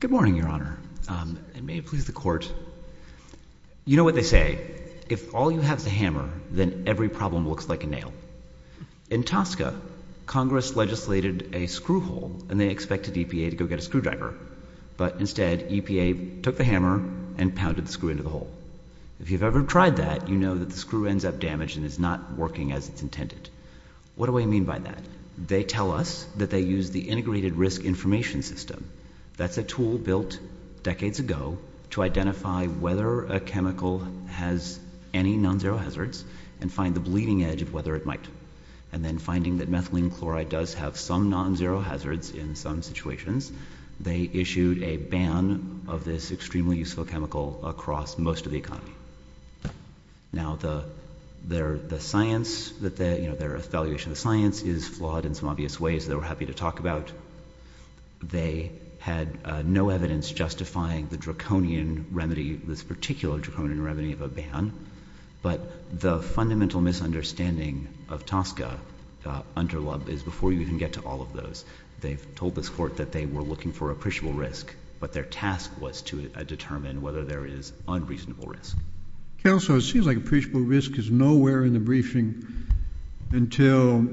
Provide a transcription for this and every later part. Good morning, Your Honor, and may it please the Court. You know what they say, if all you have is a hammer then every problem looks like a nail. In Tosca, Congress legislated a screw hole and they expected EPA to go get a screwdriver, but instead EPA took the hammer and pounded the screw into the hole. If you've ever tried that, you know that the screw ends up damaged and is not working as it's intended. What do I mean by that? They tell us that they use the Integrated Risk Information System. That's a tool built decades ago to identify whether a chemical has any non-zero hazards and find the bleeding edge of whether it might. And then finding that methylene chloride does have some non-zero hazards in some situations, they issued a ban of this extremely useful chemical across most of the economy. Now, their science, their evaluation of science is flawed in some obvious ways that we're happy to talk about. They had no evidence justifying the draconian remedy, this particular draconian remedy of a ban, but the fundamental misunderstanding of Tosca under LUB is before you even get to all of those. They've told this court that they were looking for appreciable risk, but their task was to determine whether there is unreasonable risk. Counsel, it seems like appreciable risk is nowhere in the briefing until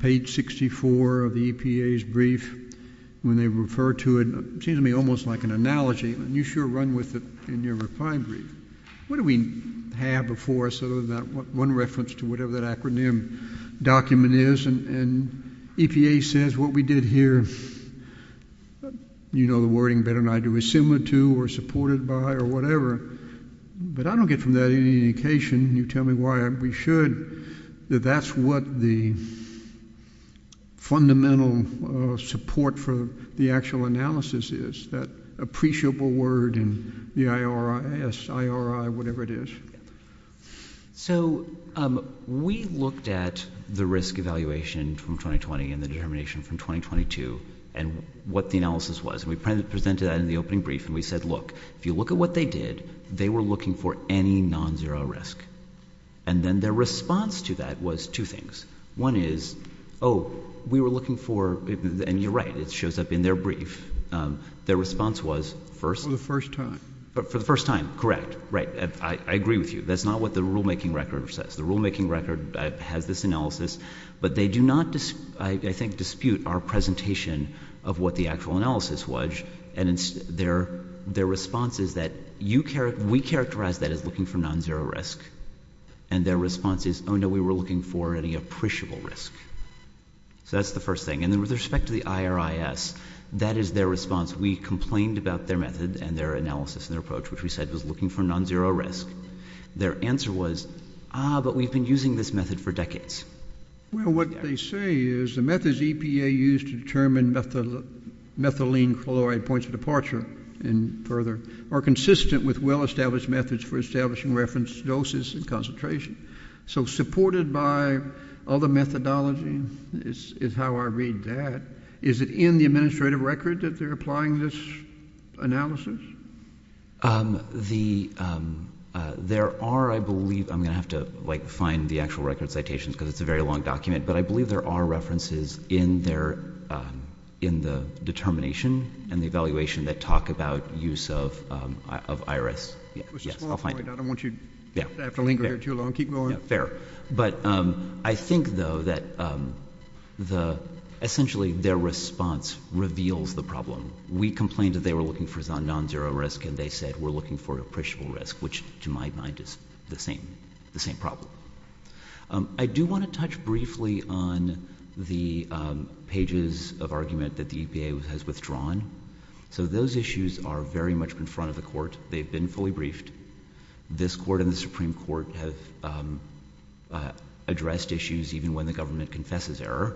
page 64 of the EPA's brief. When they refer to it, it seems to me almost like an analogy, and you sure run with it in your reply brief. What do we have before us other than that one reference to whatever that acronym document is? And EPA says what we did here, you know the wording better than I do, is similar to or supported by or whatever. But I don't get from that any indication, you tell me why we should, that that's what the fundamental support for the actual analysis is, that appreciable word and the IRS, IRI, whatever it is. So we looked at the risk evaluation from 2020 and the determination from 2022 and what the analysis was. We presented that in the opening brief and we said, look, if you look at what they did, they were looking for any non-zero risk. And then their response to that was two things. One is, we were looking for, and you're right, it shows up in their brief. Their response was first- For the first time. For the first time, correct. Right, I agree with you. That's not what the rulemaking record says. The rulemaking record has this analysis. But they do not, I think, dispute our presentation of what the actual analysis was. And their response is that we characterize that as looking for non-zero risk. And their response is, no, we were looking for any appreciable risk. So that's the first thing. And then with respect to the IRIS, that is their response. We complained about their method and their analysis and their approach, which we said was looking for non-zero risk. Their answer was, but we've been using this method for decades. Well, what they say is the methods EPA used to determine methylene chloride points of departure and further are consistent with well-established methods for establishing reference doses and concentration. So supported by other methodology is how I read that. Is it in the administrative record that they're applying this analysis? There are, I believe, I'm going to have to find the actual record citations because it's a very long document. But I believe there are references in the determination and the evaluation that talk about use of IRS. Yes, I'll find it. I don't want you to have to linger here too long. Keep going. Fair. But I think, though, that essentially their response reveals the problem. We complained that they were looking for non-zero risk and they said we're looking for appreciable risk, which to my mind is the same problem. I do want to touch briefly on the pages of argument that the EPA has withdrawn. So those issues are very much in front of the court. They've been fully briefed. This court and the Supreme Court have addressed issues even when the government confesses error.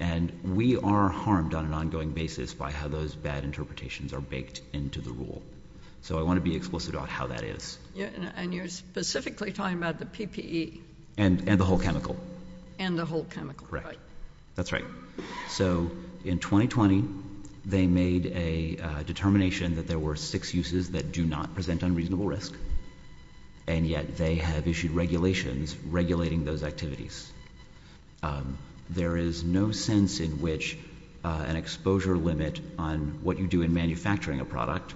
And we are harmed on an ongoing basis by how those bad interpretations are baked into the rule. So I want to be explicit on how that is. And you're specifically talking about the PPE. And the whole chemical. And the whole chemical, right. That's right. So in 2020, they made a determination that there were six uses that do not present unreasonable risk. And yet they have issued regulations regulating those activities. There is no sense in which an exposure limit on what you do in manufacturing a product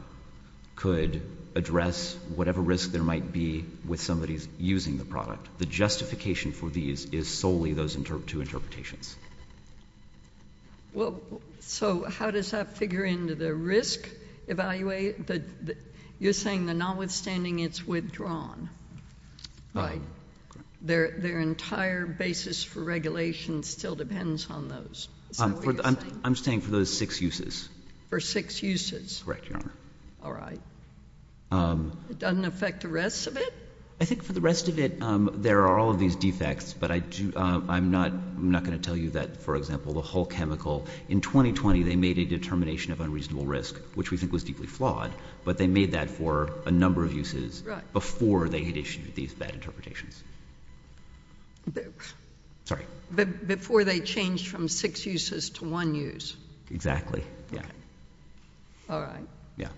could address whatever risk there might be with somebody using the product. The justification for these is solely those two interpretations. Well, so how does that figure into the risk evaluate? You're saying that notwithstanding it's withdrawn, right? Their entire basis for regulation still depends on those. Is that what you're saying? I'm saying for those six uses. For six uses? Correct, Your Honor. All right. It doesn't affect the rest of it? I think for the rest of it, there are all of these defects. But I'm not going to tell you that, for example, the whole chemical. In 2020, they made a determination of unreasonable risk, which we think was deeply flawed. But they made that for a number of uses before they had issued these bad interpretations. Sorry. Before they changed from six uses to one use. Exactly, yeah. All right. Yeah.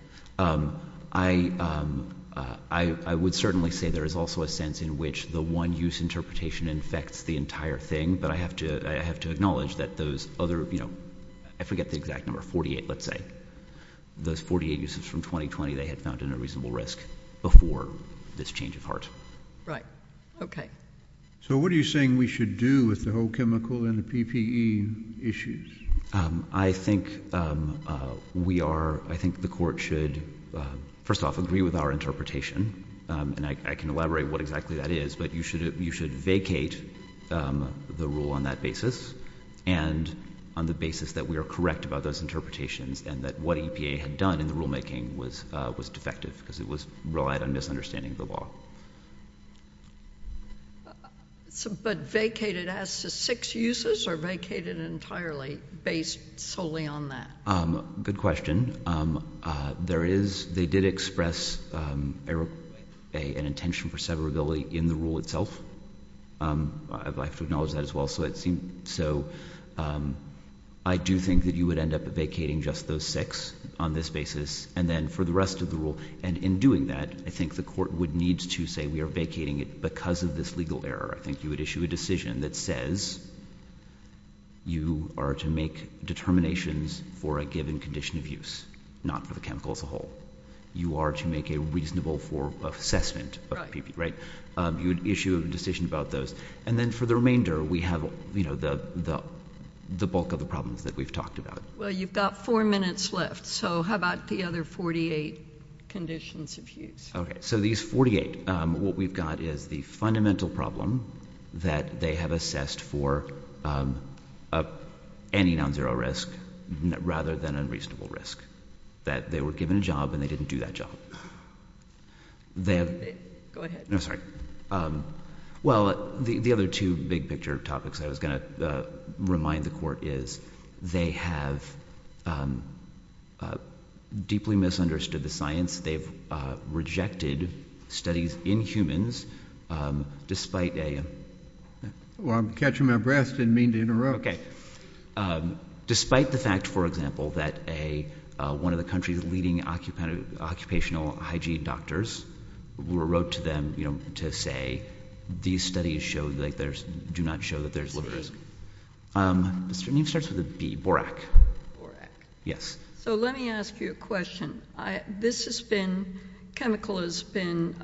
I would certainly say there is also a sense in which the one use interpretation infects the entire thing. But I have to acknowledge that those other, I forget the exact number, 48, let's say. Those 48 uses from 2020, they had found an unreasonable risk before this change of heart. Right, okay. So what are you saying we should do with the whole chemical and the PPE issues? I think we are, I think the court should, first off, agree with our interpretation. And I can elaborate what exactly that is, but you should vacate the rule on that basis. And on the basis that we are correct about those interpretations and that what EPA had done in the rule making was defective. because it was relied on misunderstanding the law. But vacated as to six uses, or vacated entirely based solely on that? Good question. There is, they did express an intention for severability in the rule itself. I'd like to acknowledge that as well, so it seemed, so I do think that you would end up vacating just those six on this basis, and then for the rest of the rule. And in doing that, I think the court would need to say, we are vacating it because of this legal error. I think you would issue a decision that says, you are to make determinations for a given condition of use, not for the chemical as a whole. You are to make a reasonable assessment of PPE, right? You would issue a decision about those. And then for the remainder, we have the bulk of the problems that we've talked about. Well, you've got four minutes left, so how about the other 48 conditions of use? Okay, so these 48, what we've got is the fundamental problem that they have assessed for any non-zero risk, rather than unreasonable risk, that they were given a job and they didn't do that job. They have- Go ahead. No, sorry. Well, the other two big picture topics I was going to remind the court is, they have deeply misunderstood the science. They've rejected studies in humans, despite a- Well, I'm catching my breath, didn't mean to interrupt. Despite the fact, for example, that one of the country's leading occupational hygiene doctors wrote to them to say, these studies do not show that there's a risk. The name starts with a B, Borac. Borac. Yes. So let me ask you a question. This has been, chemical has been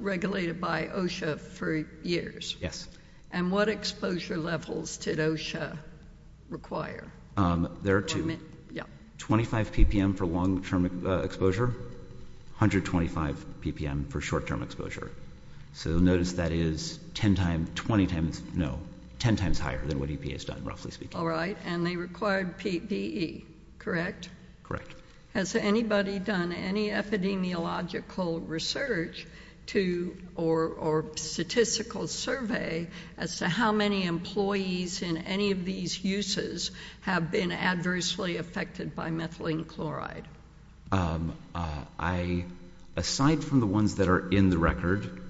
regulated by OSHA for years. Yes. And what exposure levels did OSHA require? There are two. 25 ppm for long term exposure, 125 ppm for short term exposure. So notice that is 10 times, 20 times, no, 10 times higher than what EPA's done, roughly speaking. All right, and they required PPE, correct? Correct. Has anybody done any epidemiological research to, or statistical survey as to how many employees in any of these uses have been adversely affected by methylene chloride? I, aside from the ones that are in the record,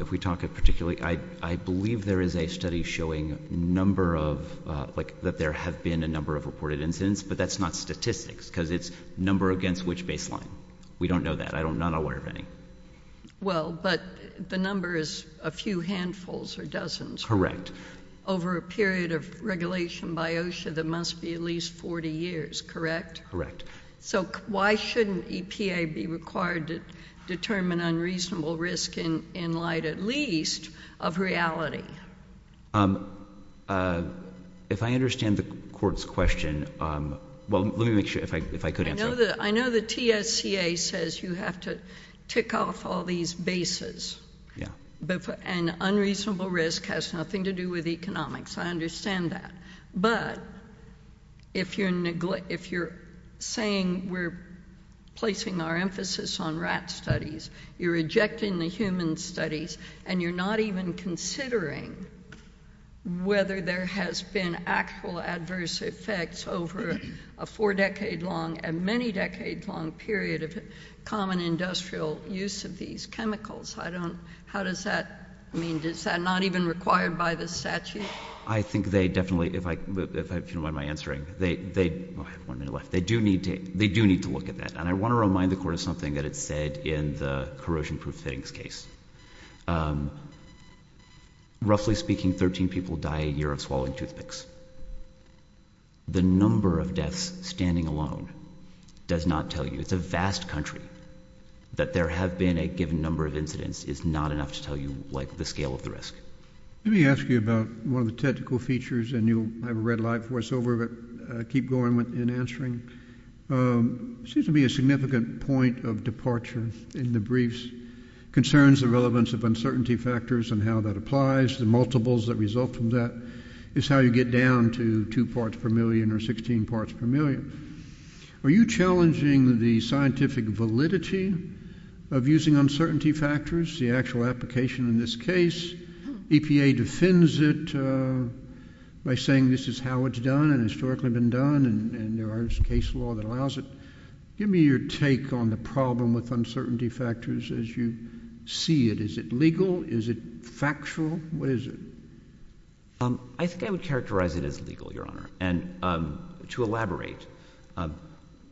if we talk of particularly, I believe there is a study showing number of, like that there have been a number of reported incidents. But that's not statistics, because it's number against which baseline. We don't know that, I'm not aware of any. Well, but the number is a few handfuls or dozens. Over a period of regulation by OSHA that must be at least 40 years, correct? Correct. So why shouldn't EPA be required to determine unreasonable risk in light, at least, of reality? If I understand the court's question, well, let me make sure, if I could answer. I know the TSCA says you have to tick off all these bases. Yeah. And unreasonable risk has nothing to do with economics, I understand that. But, if you're saying we're placing our emphasis on rat studies, you're rejecting the human studies, and you're not even considering whether there has been actual adverse effects over a four decade long and many decades long period of common industrial use of these chemicals. I don't, how does that, I mean, does that not even require by the statute? I think they definitely, if I, if you don't mind my answering, they, they, I have one minute left. They do need to, they do need to look at that. And I want to remind the court of something that it said in the corrosion proof fittings case. Roughly speaking, 13 people die a year of swallowing toothpicks. The number of deaths standing alone does not tell you, it's a vast country. That there have been a given number of incidents is not enough to tell you, like, the scale of the risk. Let me ask you about one of the technical features, and you'll have a red light for us over, but keep going with, in answering. Seems to be a significant point of departure in the briefs. Concerns the relevance of uncertainty factors and how that applies, the multiples that result from that. It's how you get down to two parts per million or 16 parts per million. Are you challenging the scientific validity of using uncertainty factors, the actual application in this case, EPA defends it by saying this is how it's done and historically been done and there are case law that allows it. Give me your take on the problem with uncertainty factors as you see it. Is it legal? Is it factual? What is it? I think I would characterize it as legal, your honor. And to elaborate,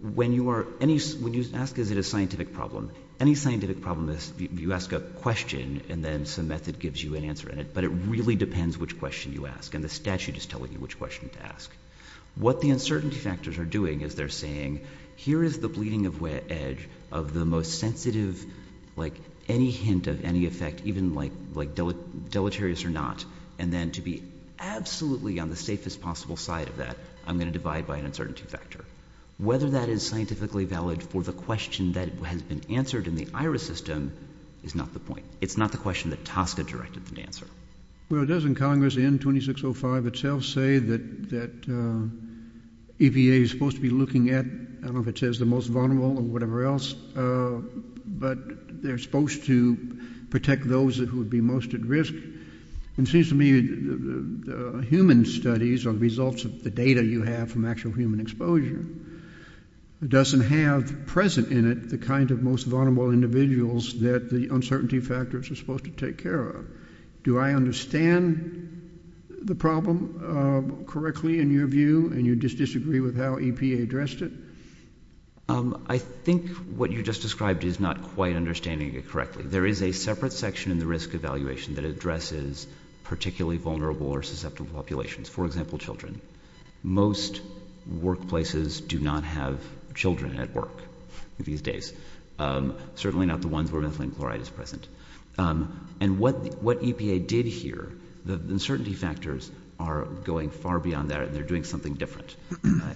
when you are, when you ask is it a scientific problem? Any scientific problem is, you ask a question and then some method gives you an answer in it. But it really depends which question you ask, and the statute is telling you which question to ask. What the uncertainty factors are doing is they're saying, here is the bleeding of edge of the most sensitive, like any hint of any effect, even like deleterious or not. And then to be absolutely on the safest possible side of that, I'm going to divide by an uncertainty factor. Whether that is scientifically valid for the question that has been answered in the IRIS system is not the point. It's not the question that Tosca directed them to answer. Well, doesn't Congress in 2605 itself say that EPA is supposed to be looking at, I don't know if it says the most vulnerable or whatever else, but they're supposed to protect those who would be most at risk. It seems to me the human studies or the results of the data you have from actual human exposure, it doesn't have present in it the kind of most vulnerable individuals that the uncertainty factors are supposed to take care of. Do I understand the problem correctly in your view, and you just disagree with how EPA addressed it? I think what you just described is not quite understanding it correctly. There is a separate section in the risk evaluation that addresses particularly vulnerable or susceptible populations. For example, children. Most workplaces do not have children at work these days. Certainly not the ones where methylene chloride is present. And what EPA did here, the uncertainty factors are going far beyond that and they're doing something different.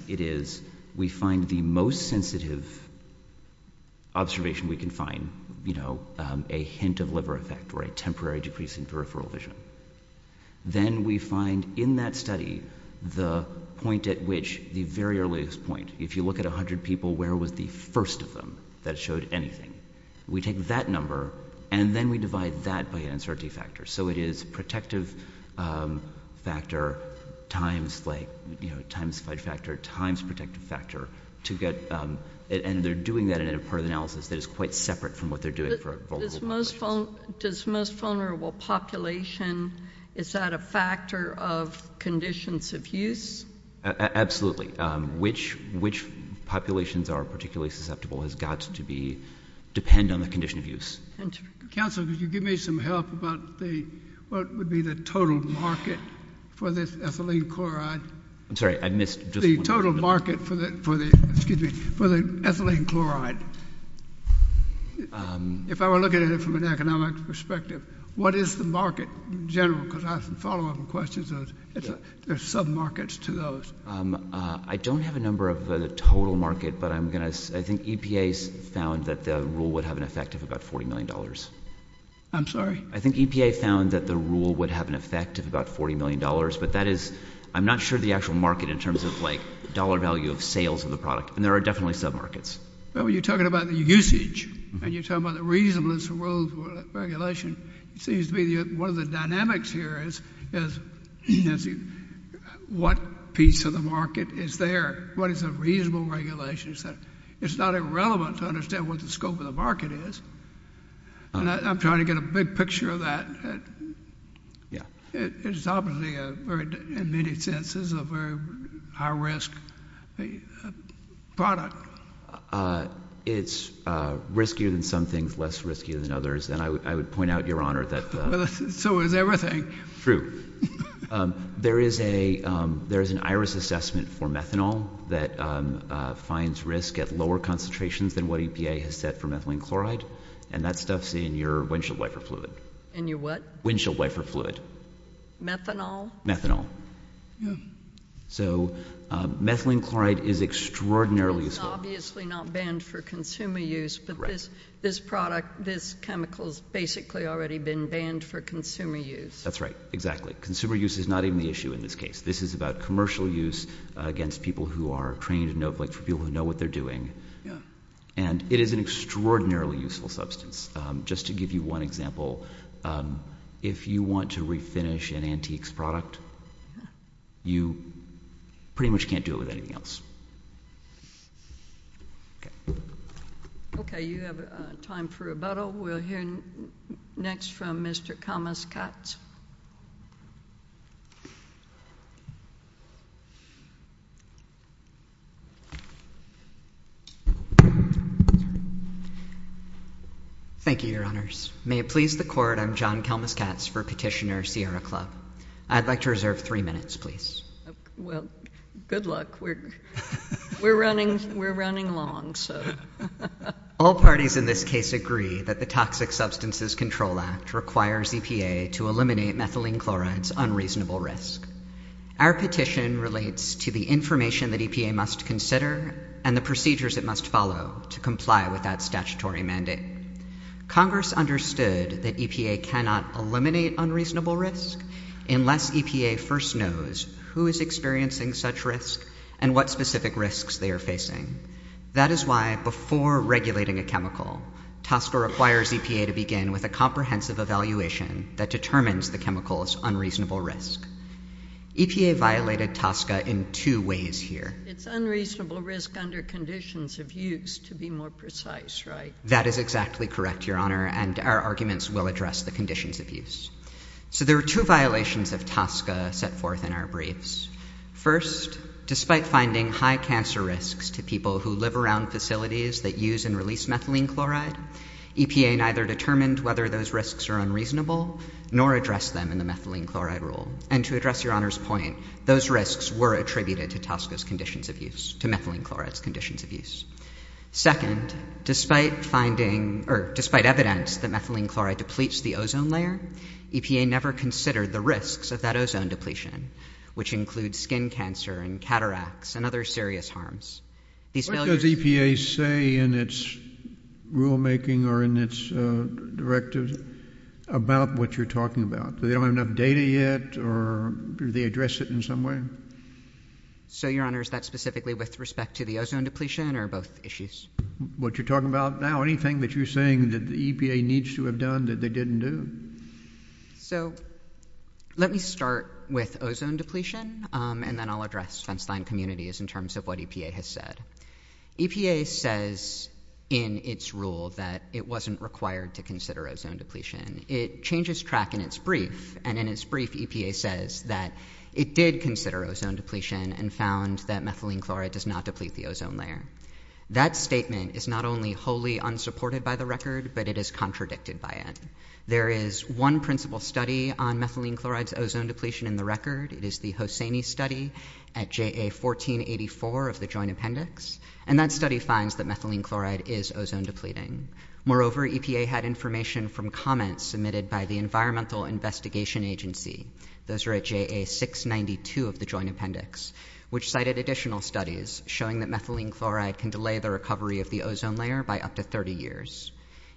It is, we find the most sensitive observation we can find, a hint of liver effect or a temporary decrease in peripheral vision. Then we find in that study the point at which the very earliest point, if you look at 100 people, where was the first of them that showed anything? We take that number and then we divide that by uncertainty factor. So it is protective factor times fight factor, times protective factor. And they're doing that in a part of the analysis that is quite separate from what they're doing for vulnerable populations. Does most vulnerable population, is that a factor of conditions of use? Absolutely. Which populations are particularly susceptible has got to depend on the condition of use. Council, could you give me some help about the, what would be the total market for this ethylene chloride? I'm sorry, I missed just one. The total market for the, excuse me, for the ethylene chloride. If I were looking at it from an economic perspective, what is the market in general? because I have some follow up questions. There's some markets to those. I don't have a number of the total market, but I'm going to, I think EPA's found that the rule would have an effect of about $40 million. I'm sorry? I think EPA found that the rule would have an effect of about $40 million, but that is, I'm not sure the actual market in terms of like dollar value of sales of the product, and there are definitely sub markets. Well, you're talking about the usage, and you're talking about the reasonableness of rules, regulation. It seems to be one of the dynamics here is what piece of the market is there? What is a reasonable regulation? It's not irrelevant to understand what the scope of the market is, and I'm trying to get a big picture of that. It's obviously, in many senses, a very high risk product. It's riskier than some things, less riskier than others, and I would point out, Your Honor, that- So is everything. True. There is an iris assessment for methanol that finds risk at lower concentrations than what EPA has set for methylene chloride. And that stuff's in your windshield wiper fluid. In your what? Windshield wiper fluid. Methanol? Methanol. Yeah. So, methylene chloride is extraordinarily useful. It's obviously not banned for consumer use, but this product, this chemical's basically already been banned for consumer use. That's right, exactly. Consumer use is not even the issue in this case. This is about commercial use against people who are trained and know what they're doing, and it is an extraordinarily useful substance. Just to give you one example, if you want to refinish an antiques product, you pretty much can't do it with anything else. Okay, you have time for rebuttal. We'll hear next from Mr. Thomas Katz. Thank you, your honors. May it please the court, I'm John Kelmas Katz for petitioner Sierra Club. I'd like to reserve three minutes, please. Well, good luck. We're running long, so. All parties in this case agree that the Toxic Substances Control Act requires EPA to eliminate methylene chloride's unreasonable risk. Our petition relates to the information that EPA must consider and the procedures it must follow to comply with that statutory mandate. Congress understood that EPA cannot eliminate unreasonable risk unless EPA first knows who is experiencing such risk and what specific risks they are facing. That is why, before regulating a chemical, TASCA requires EPA to begin with a comprehensive evaluation that determines the chemical's unreasonable risk. EPA violated TASCA in two ways here. It's unreasonable risk under conditions of use, to be more precise, right? That is exactly correct, your honor, and our arguments will address the conditions of use. So there are two violations of TASCA set forth in our briefs. First, despite finding high cancer risks to people who live around facilities that use and release methylene chloride, EPA neither determined whether those risks are unreasonable nor addressed them in the methylene chloride rule. And to address your honor's point, those risks were attributed to TASCA's conditions of use, to methylene chloride's conditions of use. Second, despite finding, or despite evidence that methylene chloride depletes the ozone layer, EPA never considered the risks of that ozone depletion, which includes skin cancer and cataracts and other serious harms. These failures- What does EPA say in its rulemaking or in its directives about what you're talking about? They don't have enough data yet or do they address it in some way? So your honor, is that specifically with respect to the ozone depletion or both issues? What you're talking about now, anything that you're saying that the EPA needs to have done that they didn't do? So let me start with ozone depletion, and then I'll address fenceline communities in terms of what EPA has said. EPA says in its rule that it wasn't required to consider ozone depletion. It changes track in its brief, and in its brief, EPA says that it did consider ozone depletion and found that methylene chloride does not deplete the ozone layer. That statement is not only wholly unsupported by the record, but it is contradicted by it. There is one principal study on methylene chloride's ozone depletion in the record. It is the Hossaini study at JA 1484 of the joint appendix. And that study finds that methylene chloride is ozone depleting. Moreover, EPA had information from comments submitted by the Environmental Investigation Agency. Those are at JA 692 of the joint appendix, which cited additional studies showing that methylene chloride can delay the recovery of the ozone layer by up to 30 years.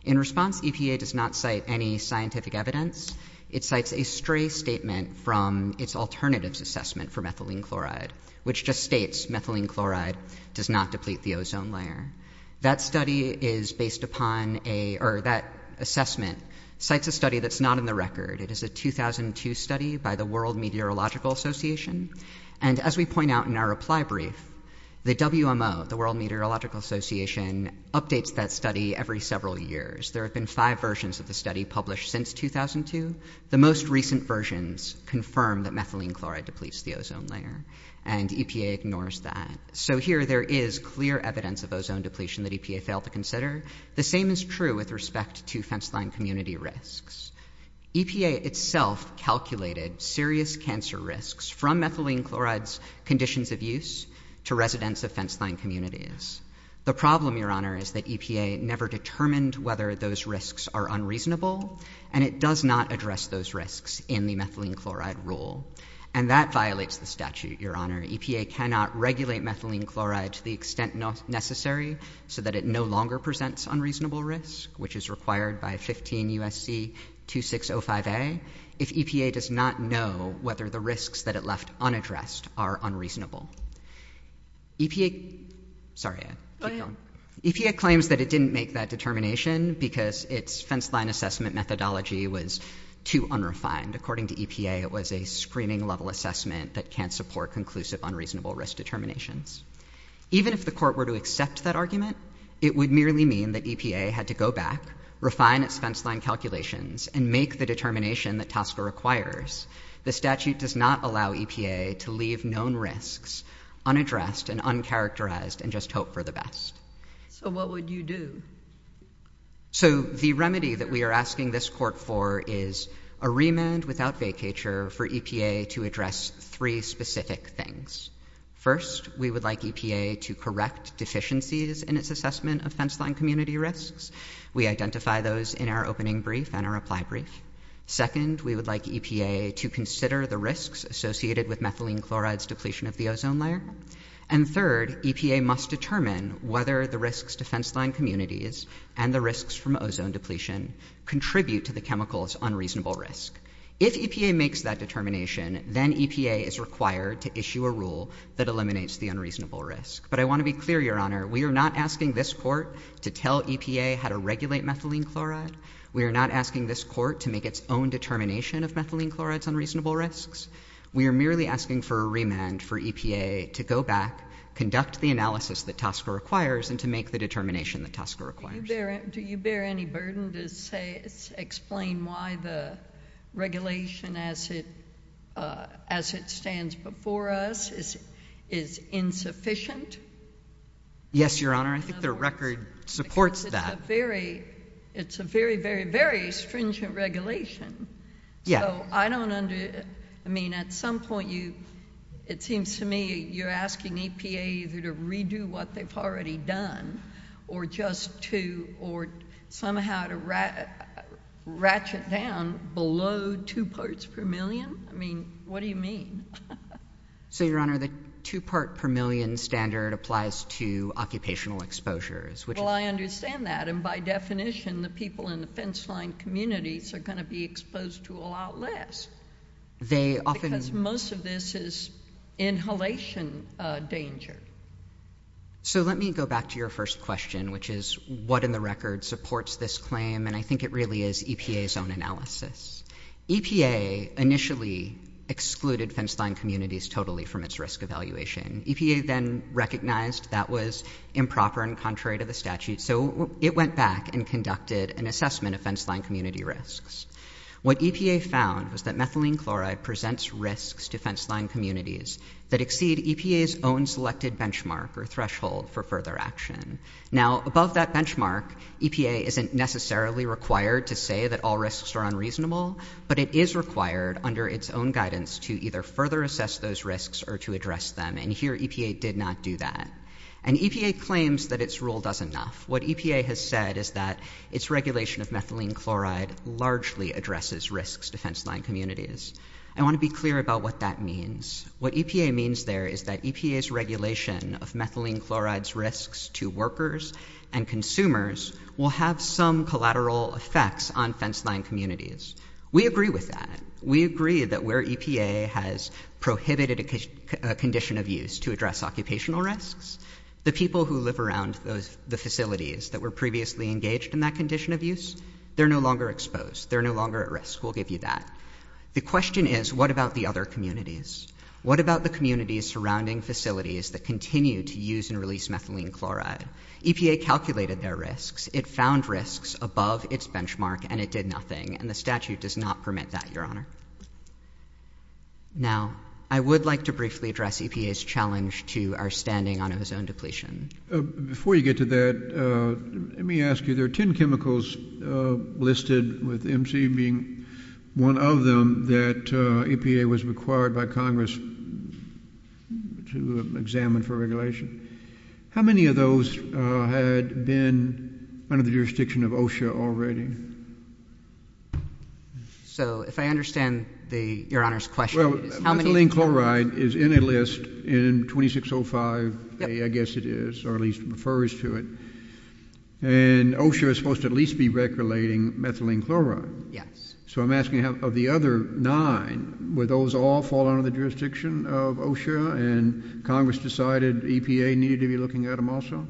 In response, EPA does not cite any scientific evidence. It cites a stray statement from its alternatives assessment for methylene chloride, which just states methylene chloride does not deplete the ozone layer. That assessment cites a study that's not in the record. It is a 2002 study by the World Meteorological Association. And as we point out in our reply brief, the WMO, the World Meteorological Association, updates that study every several years. There have been five versions of the study published since 2002. The most recent versions confirm that methylene chloride depletes the ozone layer. And EPA ignores that. So here there is clear evidence of ozone depletion that EPA failed to consider. The same is true with respect to fence line community risks. EPA itself calculated serious cancer risks from methylene chloride's conditions of use to residents of fence line communities. The problem, Your Honor, is that EPA never determined whether those risks are unreasonable. And it does not address those risks in the methylene chloride rule. And that violates the statute, Your Honor. EPA cannot regulate methylene chloride to the extent necessary so that it no longer presents unreasonable risk, which is required by 15 USC 2605A. If EPA does not know whether the risks that it left unaddressed are unreasonable. EPA, sorry, I keep going. EPA claims that it didn't make that determination because its fence line assessment methodology was too unrefined. According to EPA, it was a screening level assessment that can't support conclusive unreasonable risk determinations. Even if the court were to accept that argument, it would merely mean that EPA had to go back, refine its fence line calculations, and make the determination that TSCA requires. The statute does not allow EPA to leave known risks unaddressed and uncharacterized and just hope for the best. So what would you do? So the remedy that we are asking this court for is a remand without vacature for EPA to address three specific things. First, we would like EPA to correct deficiencies in its assessment of fence line community risks. We identify those in our opening brief and our reply brief. Second, we would like EPA to consider the risks associated with methylene chloride's depletion of the ozone layer. And third, EPA must determine whether the risks to fence line communities and the risks from ozone depletion contribute to the chemical's unreasonable risk. If EPA makes that determination, then EPA is required to issue a rule that eliminates the unreasonable risk. But I want to be clear, your honor, we are not asking this court to tell EPA how to regulate methylene chloride. We are not asking this court to make its own determination of methylene chloride's unreasonable risks. We are merely asking for a remand for EPA to go back, conduct the analysis that TSCA requires, and to make the determination that TSCA requires. Do you bear any burden to say, explain why the regulation as it stands before us is insufficient? Yes, your honor. I think the record supports that. Because it's a very, very, very stringent regulation. Yeah. So I don't under, I mean, at some point you, it seems to me you're asking EPA either to redo what they've already done, or just to, or somehow to ratchet down below two parts per million? I mean, what do you mean? So your honor, the two part per million standard applies to occupational exposures, which is- Well, I understand that. And by definition, the people in the fence line communities are going to be exposed to a lot less. They often- Most of this is inhalation danger. So let me go back to your first question, which is what in the record supports this claim? And I think it really is EPA's own analysis. EPA initially excluded fence line communities totally from its risk evaluation. EPA then recognized that was improper and contrary to the statute. So it went back and conducted an assessment of fence line community risks. What EPA found was that methylene chloride presents risks to fence line communities that exceed EPA's own selected benchmark or threshold for further action. Now, above that benchmark, EPA isn't necessarily required to say that all risks are unreasonable, but it is required under its own guidance to either further assess those risks or to address them. And here EPA did not do that. And EPA claims that its rule does enough. What EPA has said is that its regulation of methylene chloride largely addresses risks to fence line communities. I want to be clear about what that means. What EPA means there is that EPA's regulation of methylene chloride's risks to workers and consumers will have some collateral effects on fence line communities. We agree with that. We agree that where EPA has prohibited a condition of use to address occupational risks, the people who live around the facilities that were previously engaged in that condition of use, they're no longer exposed. They're no longer at risk. We'll give you that. The question is, what about the other communities? What about the communities surrounding facilities that continue to use and release methylene chloride? EPA calculated their risks. It found risks above its benchmark, and it did nothing. And the statute does not permit that, Your Honor. Now, I would like to briefly address EPA's challenge to our standing on ozone depletion. Before you get to that, let me ask you, there are 10 chemicals listed, with MC being one of them, that EPA was required by Congress to examine for regulation. How many of those had been under the jurisdiction of OSHA already? So, if I understand Your Honor's question, it's how many— Well, methylene chloride is in a list in 2605A, I guess it is, or at least refers to it. And OSHA is supposed to at least be regulating methylene chloride. Yes. So I'm asking, of the other nine, would those all fall under the jurisdiction of OSHA, and Congress decided EPA needed to be looking at them also?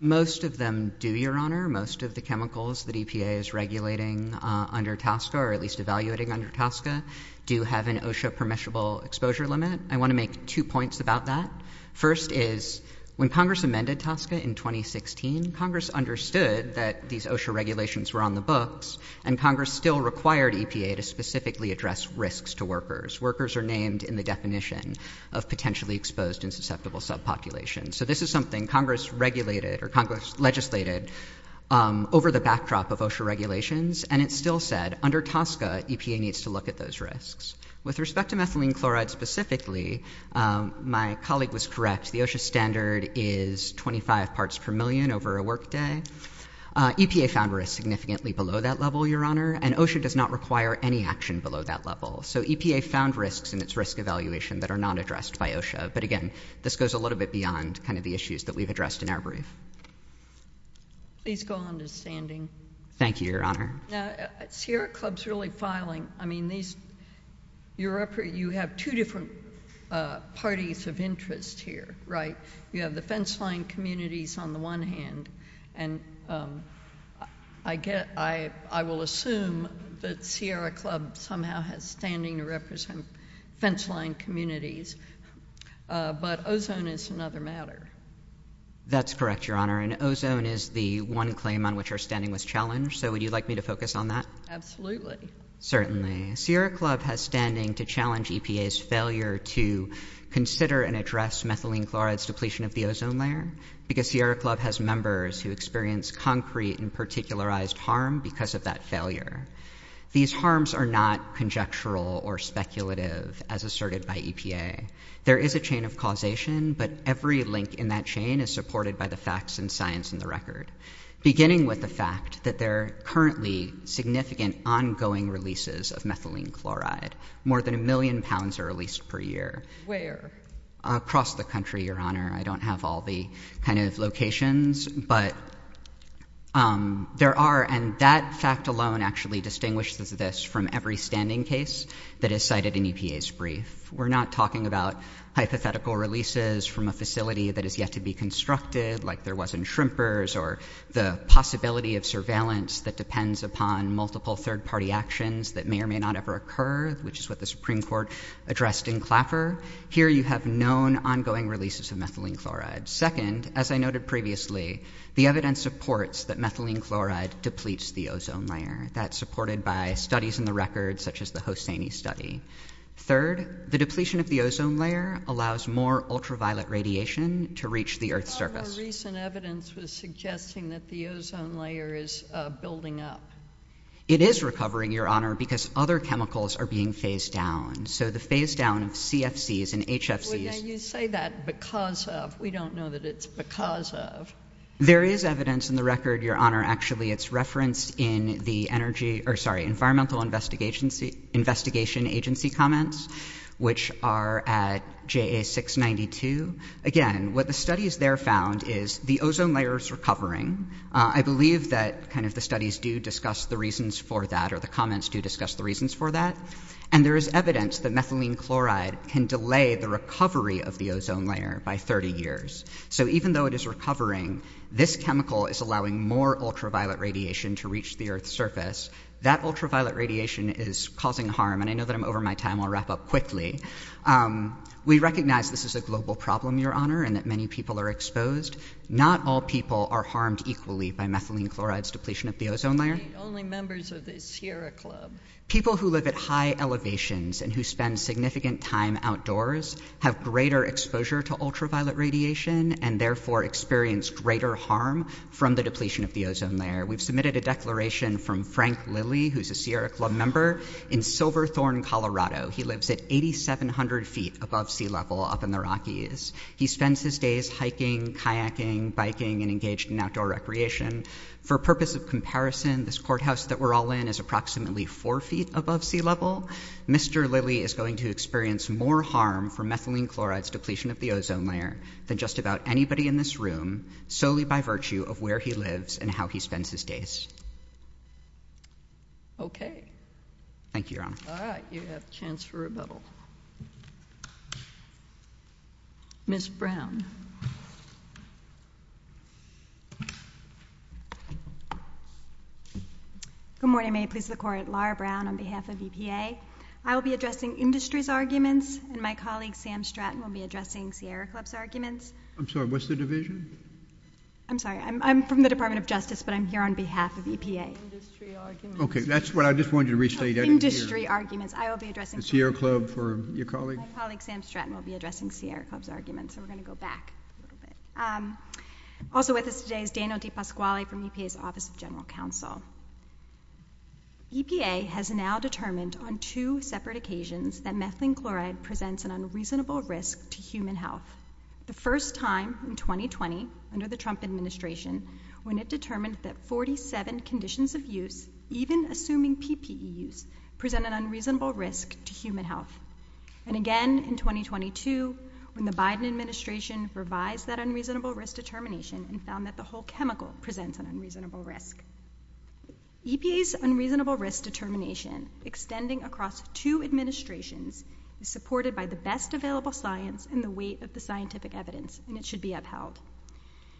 Most of them do, Your Honor. Most of the chemicals that EPA is regulating under TSCA, or at least evaluating under TSCA, do have an OSHA-permissible exposure limit. I want to make two points about that. First is, when Congress amended TSCA in 2016, Congress understood that these OSHA regulations were on the books, and Congress still required EPA to specifically address risks to workers. Workers are named in the definition of potentially exposed and susceptible subpopulations. So this is something Congress regulated, or Congress legislated, over the backdrop of OSHA regulations, and it still said, under TSCA, EPA needs to look at those risks. With respect to methylene chloride specifically, my colleague was correct. The OSHA standard is 25 parts per million over a workday. EPA found risks significantly below that level, Your Honor, and OSHA does not require any action below that level. So EPA found risks in its risk evaluation that are not addressed by OSHA. But again, this goes a little bit beyond kind of the issues that we've addressed in our brief. Please go on to standing. Thank you, Your Honor. Now, Sierra Club's really filing. I mean, you have two different parties of interest here, right? You have the fenceline communities on the one hand, and I will assume that Sierra Club somehow has standing to represent fenceline communities. But ozone is another matter. That's correct, Your Honor. And ozone is the one claim on which our standing was challenged. So would you like me to focus on that? Certainly. Sierra Club has standing to challenge EPA's failure to consider and address methylene chloride's depletion of the ozone layer because Sierra Club has members who experience concrete and particularized harm because of that failure. These harms are not conjectural or speculative, as asserted by EPA. There is a chain of causation, but every link in that chain is supported by the facts and science in the record, beginning with the fact that there are currently significant ongoing releases of methylene chloride. More than a million pounds are released per year. Across the country, Your Honor. I don't have all the kind of locations, but there are. And that fact alone actually distinguishes this from every standing case that is cited in EPA's brief. We're not talking about hypothetical releases from a facility that is yet to be constructed, like there was in Shrimper's, or the possibility of surveillance that depends upon multiple third-party actions that may or may not ever occur, which is what the Supreme Court addressed in Clapper. Here you have known ongoing releases of methylene chloride. Second, as I noted previously, the evidence supports that methylene chloride depletes the ozone layer. That's supported by studies in the record, such as the Hosseini study. Third, the depletion of the ozone layer allows more ultraviolet radiation to reach the Earth's surface. All the recent evidence was suggesting that the ozone layer is building up. It is recovering, Your Honor, because other chemicals are being phased down. So the phase-down of CFCs and HFCs— Well, now you say that because of. We don't know that it's because of. There is evidence in the record, Your Honor, actually it's referenced in the Energy—or sorry, Environmental Investigation Agency comments, which are at JA 692. Again, what the studies there found is the ozone layer is recovering. I believe that kind of the studies do discuss the reasons for that, or the comments do discuss the reasons for that. And there is evidence that methylene chloride can delay the recovery of the ozone layer by 30 years. So even though it is recovering, this chemical is allowing more ultraviolet radiation to the Earth's surface. That ultraviolet radiation is causing harm. And I know that I'm over my time. I'll wrap up quickly. We recognize this is a global problem, Your Honor, and that many people are exposed. Not all people are harmed equally by methylene chloride's depletion of the ozone layer. You mean only members of the Sierra Club? People who live at high elevations and who spend significant time outdoors have greater exposure to ultraviolet radiation and therefore experience greater harm from the depletion of the ozone layer. We've submitted a declaration from Frank Lilly, who's a Sierra Club member in Silverthorne, Colorado. He lives at 8,700 feet above sea level up in the Rockies. He spends his days hiking, kayaking, biking, and engaged in outdoor recreation. For purpose of comparison, this courthouse that we're all in is approximately four feet above sea level. Mr. Lilly is going to experience more harm from methylene chloride's depletion of the ozone layer than just about anybody in this room, solely by virtue of where he lives and how he spends his days. Okay. Thank you, Your Honor. All right. You have a chance for rebuttal. Ms. Brown. Good morning. May it please the Court. Laura Brown on behalf of EPA. I will be addressing industry's arguments, and my colleague Sam Stratton will be addressing Sierra Club's arguments. I'm sorry. What's the division? I'm sorry. I'm from the Department of Justice, but I'm here on behalf of EPA. That's what I just wanted to restate. Industry arguments. I will be addressing Sierra Club for your colleague. My colleague Sam Stratton will be addressing Sierra Club's arguments, so we're going to go back a little bit. Also with us today is Daniel DePasquale from EPA's Office of General Counsel. EPA has now determined on two separate occasions that methylene chloride presents an unreasonable risk to human health. The first time in 2020, under the Trump administration, when it determined that 47 conditions of use, even assuming PPE use, present an unreasonable risk to human health. And again in 2022, when the Biden administration revised that unreasonable risk determination and found that the whole chemical presents an unreasonable risk. EPA's unreasonable risk determination, extending across two administrations, is supported by the best available science and the weight of the scientific evidence, and it should be upheld.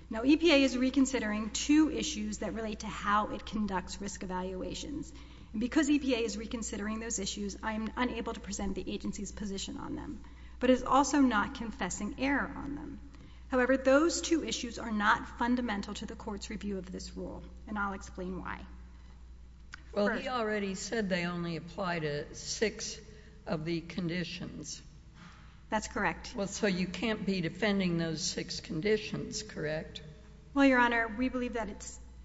Now EPA is reconsidering two issues that relate to how it conducts risk evaluations. Because EPA is reconsidering those issues, I am unable to present the agency's position on them, but is also not confessing error on them. However, those two issues are not fundamental to the court's review of this rule, and I'll explain why. Well, he already said they only apply to six of the conditions. That's correct. Well, so you can't be defending those six conditions, correct? Well, Your Honor, we believe that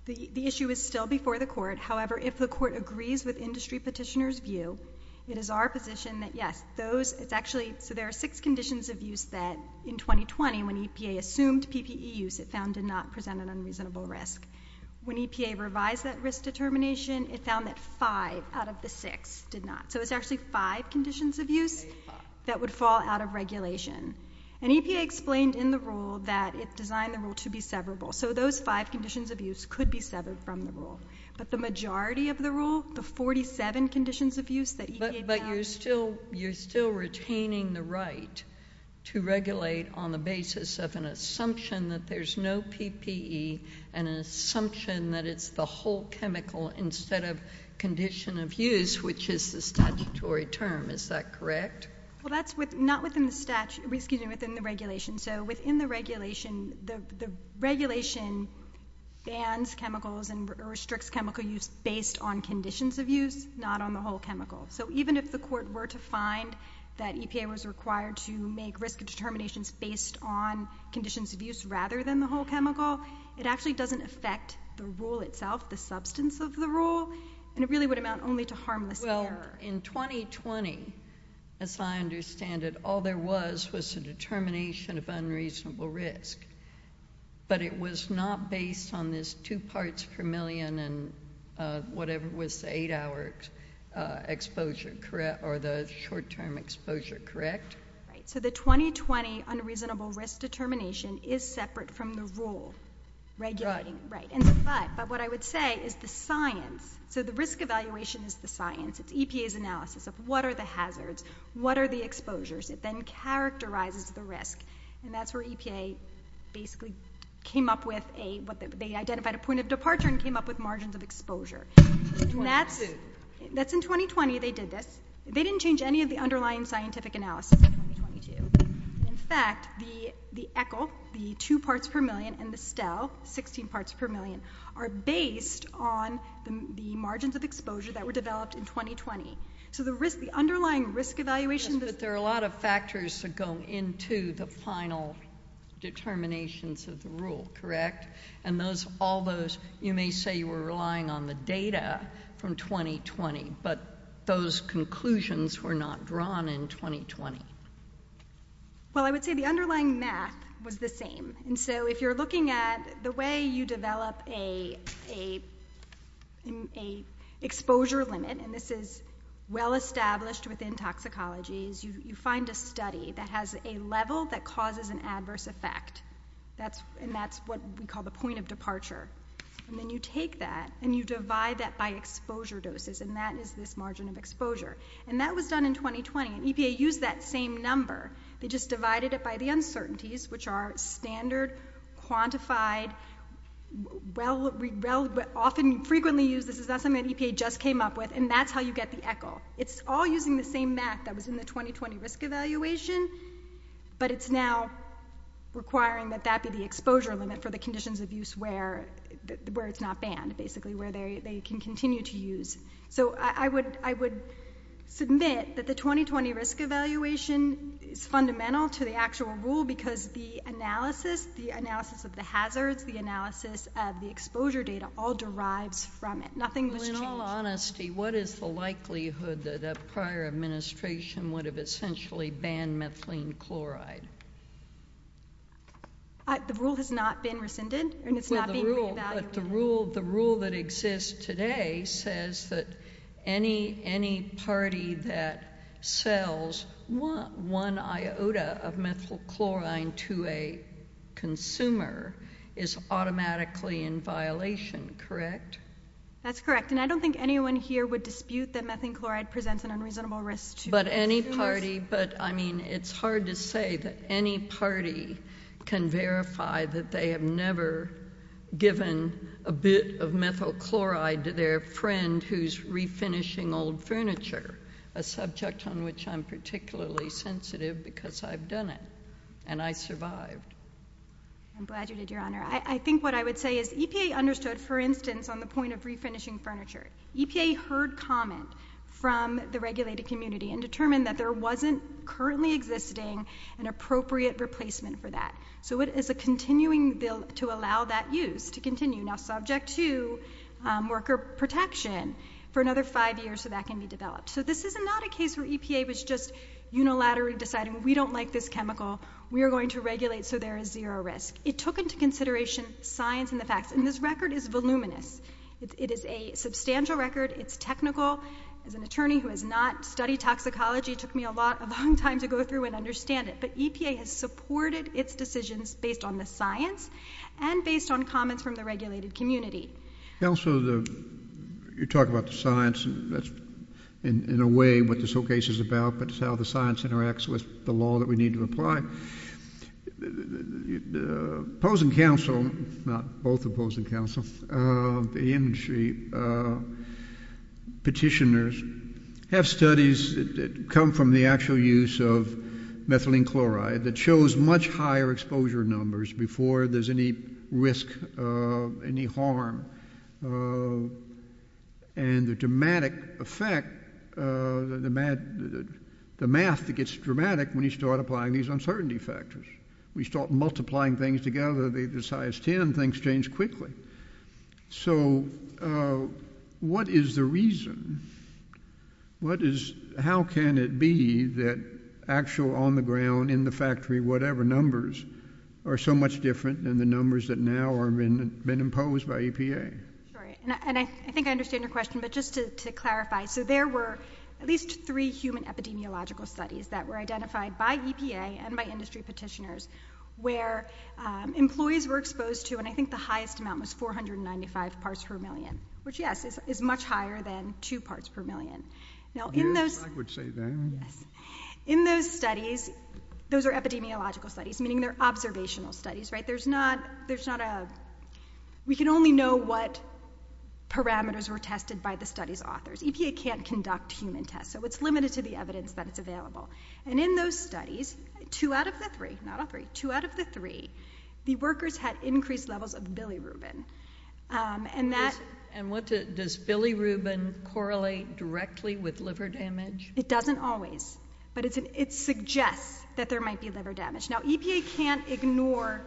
the issue is still before the court. However, if the court agrees with industry petitioner's view, it is our position that yes, those, it's actually, so there are six conditions of use that in 2020, when EPA assumed PPE use, it found did not present an unreasonable risk. When EPA revised that risk determination, it found that five out of the six did not. So it's actually five conditions of use that would fall out of regulation. And EPA explained in the rule that it designed the rule to be severable. So those five conditions of use could be severed from the rule. But the majority of the rule, the 47 conditions of use that EPA found- But you're still retaining the right to regulate on the basis of an assumption that there's no PPE and an assumption that it's the whole chemical instead of condition of use, which is the statutory term. Is that correct? Well, that's not within the regulation. So within the regulation, the regulation bans chemicals and restricts chemical use based on conditions of use, not on the whole chemical. So even if the court were to find that EPA was required to make risk determinations based on conditions of use rather than the whole chemical, it actually doesn't affect the rule itself, the substance of the rule. And it really would amount only to harmless error. Well, in 2020, as I understand it, all there was was a determination of unreasonable risk. But it was not based on this two parts per million and whatever was the eight-hour exposure, correct, or the short-term exposure, correct? Right. So the 2020 unreasonable risk determination is separate from the rule regulating. But what I would say is the science. So the risk evaluation is the science. It's EPA's analysis of what are the hazards? What are the exposures? It then characterizes the risk. And that's where EPA basically came up with a- they identified a point of departure and came up with margins of exposure. That's in 2020 they did this. They didn't change any of the underlying scientific analysis. In fact, the ECCL, the two parts per million, and the STEL, 16 parts per million, are based on the margins of exposure that were developed in 2020. So the underlying risk evaluation- Yes, but there are a lot of factors that go into the final determinations of the rule, correct? And all those, you may say you were relying on the data from 2020, but those conclusions were not drawn in 2020. Well, I would say the underlying math was the same. And so if you're looking at the way you develop a exposure limit, and this is well established within toxicology, is you find a study that has a level that causes an adverse effect. And that's what we call the point of departure. And then you take that and you divide that by exposure doses. And that is this margin of exposure. And that was done in 2020. And EPA used that same number. They just divided it by the uncertainties, which are standard, quantified, often frequently used. This is not something that EPA just came up with. And that's how you get the ECCL. It's all using the same math that was in the 2020 risk evaluation, but it's now requiring that that be the exposure limit for the conditions of use where it's not banned, basically, where they can continue to use. So I would submit that the 2020 risk evaluation is fundamental to the actual rule because the analysis, the analysis of the hazards, the analysis of the exposure data all derives from it. Nothing was changed. In all honesty, what is the likelihood that a prior administration would have essentially banned methylene chloride? The rule has not been rescinded and it's not being re-evaluated. But the rule that exists today says that any party that sells one iota of methylene chloride to a consumer is automatically in violation, correct? That's correct. And I don't think anyone here would dispute that methylene chloride presents an unreasonable risk to consumers. But I mean, it's hard to say that any party can verify that they have never given a bit of methylene chloride to their friend who's refinishing old furniture, a subject on which I'm particularly sensitive because I've done it and I survived. I'm glad you did, Your Honor. I think what I would say is EPA understood, for instance, on the point of refinishing furniture. EPA heard comment from the regulated community and determined that there wasn't currently existing an appropriate replacement for that. So it is a continuing bill to allow that use to continue, now subject to worker protection for another five years so that can be developed. So this is not a case where EPA was just unilaterally deciding we don't like this chemical. We are going to regulate so there is zero risk. It took into consideration science and the facts. And this record is voluminous. It is a substantial record. It's technical. As an attorney who has not studied toxicology, it took me a long time to go through and understand it. But EPA has supported its decisions based on the science and based on comments from the regulated community. Counselor, you talk about the science and that's in a way what this whole case is about, but it's how the science interacts with the law that we need to apply. The opposing counsel, not both opposing counsel, the industry, petitioners have studies that come from the actual use of methylene chloride that shows much higher exposure numbers before there is any risk of any harm. And the dramatic effect, the math that gets dramatic when you start applying these uncertainty factors. We start multiplying things together, the size 10, things change quickly. So what is the reason? How can it be that actual on the ground, in the factory, whatever numbers are so much different than the numbers that now have been imposed by EPA? Sorry, and I think I understand your question, but just to clarify, so there were at least three human epidemiological studies that were identified by EPA and by industry petitioners where employees were exposed to, and I think the highest amount was 495 parts per million, which yes, is much higher than two parts per million. Now in those studies, those are epidemiological studies, meaning they're observational studies, there's not a, we can only know what parameters were tested by the study's authors. EPA can't conduct human tests, so it's limited to the evidence that it's available. And in those studies, two out of the three, not all three, two out of the three, the workers had increased levels of bilirubin. And that- And what, does bilirubin correlate directly with liver damage? It doesn't always, but it suggests that there might be liver damage. Now EPA can't ignore,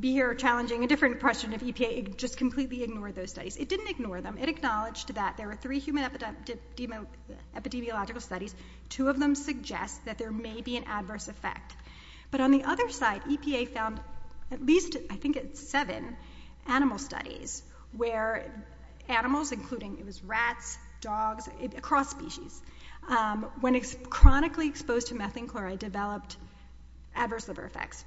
be here challenging a different question of EPA, just completely ignore those studies. It didn't ignore them, it acknowledged that there were three human epidemiological studies, two of them suggest that there may be an adverse effect. But on the other side, EPA found at least, I think it's seven, animal studies where animals, including, it was rats, dogs, across species, when chronically exposed to methane chloride developed adverse liver effects,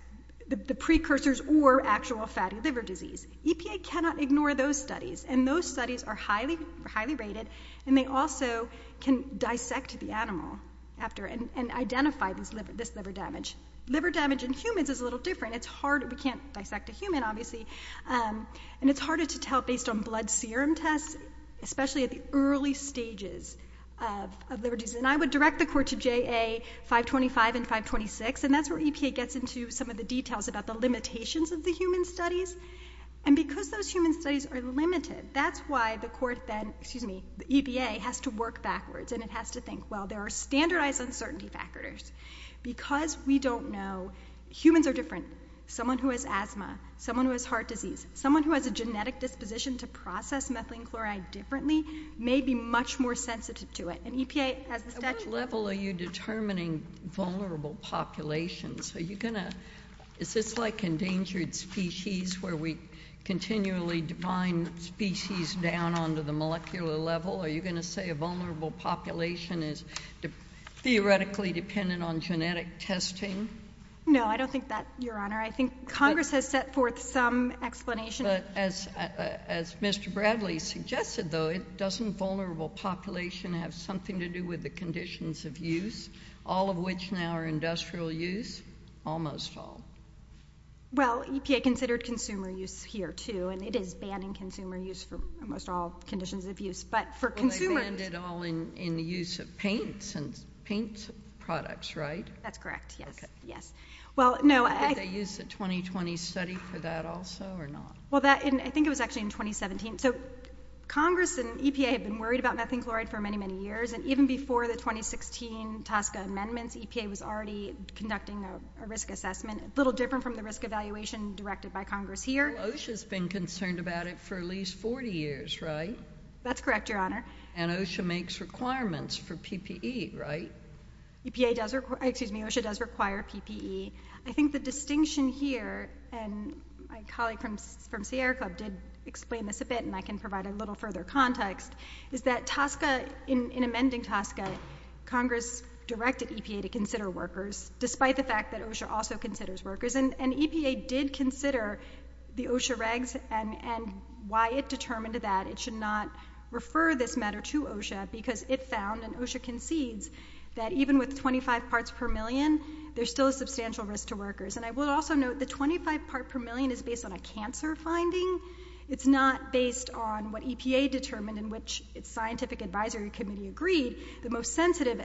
the precursors or actual fatty liver disease. EPA cannot ignore those studies, and those studies are highly rated, and they also can dissect the animal after, and identify this liver damage. Liver damage in humans is a little different. It's hard, we can't dissect a human, obviously, and it's harder to tell based on blood serum tests, especially at the early stages of liver disease. And I would direct the court to JA 525 and 526, and that's where EPA gets into some of the details about the limitations of the human studies. And because those human studies are limited, that's why the court then, excuse me, the EPA has to work backwards, and it has to think, well, there are standardized uncertainty factors. Because we don't know, humans are different. Someone who has asthma, someone who has heart disease, someone who has a genetic disposition to process methylene chloride differently, may be much more sensitive to it. And EPA has the statute. At what level are you determining vulnerable populations? Are you going to, is this like endangered species, where we continually define species down onto the molecular level? Are you going to say a vulnerable population is theoretically dependent on genetic testing? No, I don't think that, Your Honor. I think Congress has set forth some explanation. But as Mr. Bradley suggested, though, doesn't vulnerable population have something to do with the conditions of use? All of which now are industrial use? Almost all. Well, EPA considered consumer use here, too, and it is banning consumer use for almost all conditions of use. But for consumers. Well, they banned it all in the use of paints and paint products, right? That's correct, yes. Yes. Well, no. Did they use the 2020 study for that also, or not? I think it was actually in 2017. So Congress and EPA have been worried about methane chloride for many, many years. And even before the 2016 TSCA amendments, EPA was already conducting a risk assessment, a little different from the risk evaluation directed by Congress here. OSHA's been concerned about it for at least 40 years, right? That's correct, Your Honor. And OSHA makes requirements for PPE, right? EPA does, excuse me, OSHA does require PPE. I think the distinction here, and my colleague from Sierra Club did explain this a bit, and I can provide a little further context, is that TSCA, in amending TSCA, Congress directed EPA to consider workers, despite the fact that OSHA also considers workers. And EPA did consider the OSHA regs and why it determined that it should not refer this matter to OSHA, because it found, and OSHA concedes, that even with 25 parts per million, there's still a substantial risk to workers. And I will also note the 25 part per million is based on a cancer finding. It's not based on what EPA determined, in which its scientific advisory committee agreed, the most sensitive,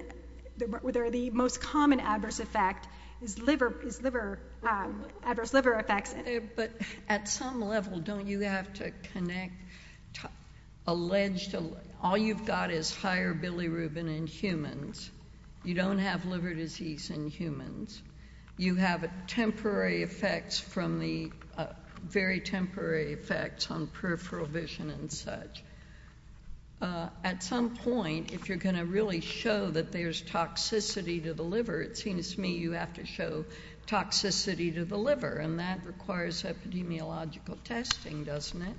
or the most common adverse effect is liver, is liver, adverse liver effects. But at some level, don't you have to connect, all you've got is higher bilirubin in humans. You don't have liver disease in humans. You have temporary effects from the, very temporary effects on peripheral vision and such. At some point, if you're going to really show that there's toxicity to the liver, it seems to me you have to show toxicity to the liver. And that requires epidemiological testing, doesn't it?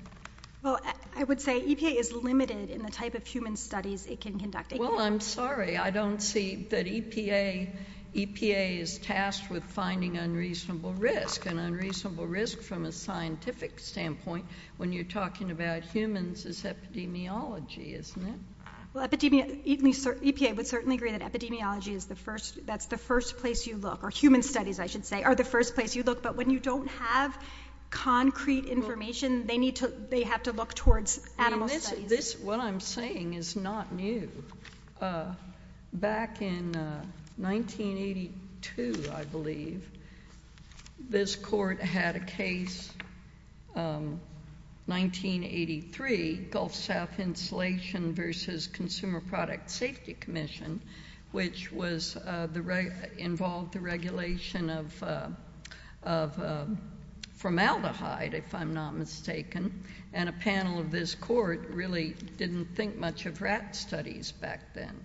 Well, I would say EPA is limited in the type of human studies it can conduct. Well, I'm sorry, I don't see that EPA is tasked with finding unreasonable risk. And unreasonable risk from a scientific standpoint, when you're talking about humans, is epidemiology, isn't it? Well, EPA would certainly agree that epidemiology is the first, that's the first place you look. Or human studies, I should say, are the first place you look. But when you don't have concrete information, they need to, they have to look towards animal studies. What I'm saying is not new. Back in 1982, I believe, this court had a case, 1983, Gulf South Insulation versus Consumer Product Safety Commission, which was, involved the regulation of formaldehyde, if I'm not mistaken. And a panel of this court really didn't think much of rat studies back then.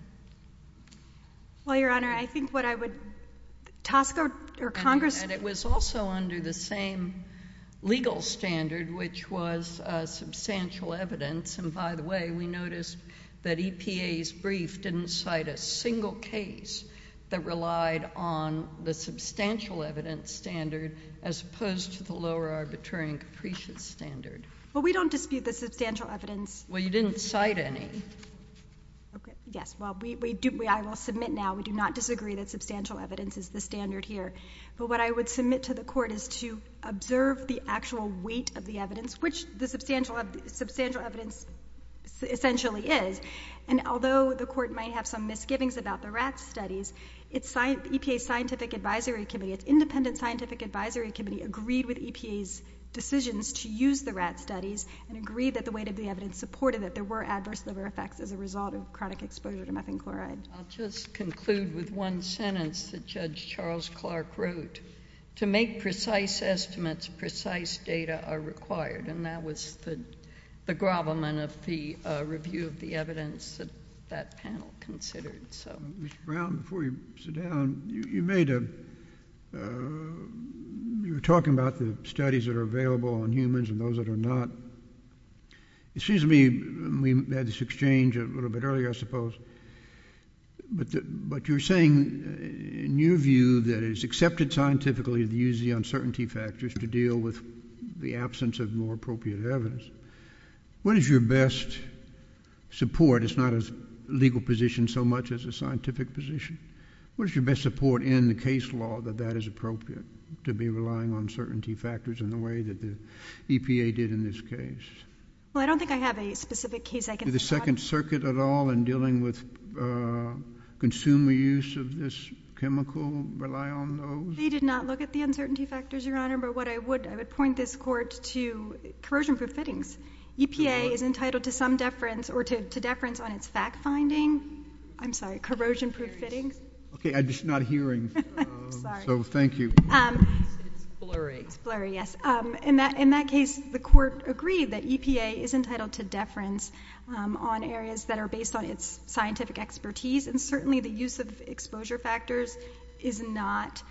Well, Your Honor, I think what I would, Tosca or Congress... It was also under the same legal standard, which was substantial evidence. And by the way, we noticed that EPA's brief didn't cite a single case that relied on the substantial evidence standard, as opposed to the lower arbitrary and capricious standard. Well, we don't dispute the substantial evidence. Well, you didn't cite any. Okay, yes. Well, we do, I will submit now, we do not disagree that substantial evidence is the standard here. But what I would submit to the court is to observe the actual weight of the evidence, which the substantial evidence essentially is. And although the court might have some misgivings about the rat studies, it's EPA Scientific Advisory Committee, it's Independent Scientific Advisory Committee, agreed with EPA's decisions to use the rat studies and agreed that the weight of the evidence supported that there were adverse effects as a result of chronic exposure to methane chloride. I'll just conclude with one sentence that Judge Charles Clark wrote, to make precise estimates, precise data are required. And that was the grovelment of the review of the evidence that that panel considered. So Mr. Brown, before you sit down, you made a... You were talking about the studies that are available on humans and those that are not. It seems to me, we had this exchange a little bit earlier, I suppose. But you're saying, in your view, that it is accepted scientifically to use the uncertainty factors to deal with the absence of more appropriate evidence. What is your best support? It's not a legal position so much as a scientific position. What is your best support in the case law that that is appropriate, to be relying on certainty factors in the way that the EPA did in this case? Well, I don't think I have a specific case I can... Did the Second Circuit at all in dealing with consumer use of this chemical rely on those? They did not look at the uncertainty factors, Your Honor. But what I would, I would point this court to corrosion-proof fittings. EPA is entitled to some deference or to deference on its fact-finding... I'm sorry, corrosion-proof fittings. Okay, I'm just not hearing. So, thank you. It's blurry. It's blurry, yes. In that case, the court agreed that EPA is entitled to deference on areas that are based on its scientific expertise. And certainly, the use of exposure factors is not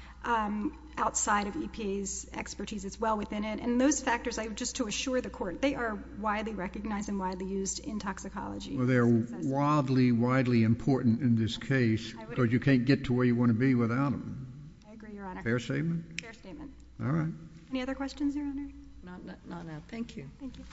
outside of EPA's expertise. It's well within it. And those factors, just to assure the court, they are widely recognized and widely used in toxicology. They're wildly, widely important in this case because you can't get to where you want to be without them. I agree, Your Honor. Fair statement? Fair statement. All right. Any other questions, Your Honor? Not now, thank you. Thank you.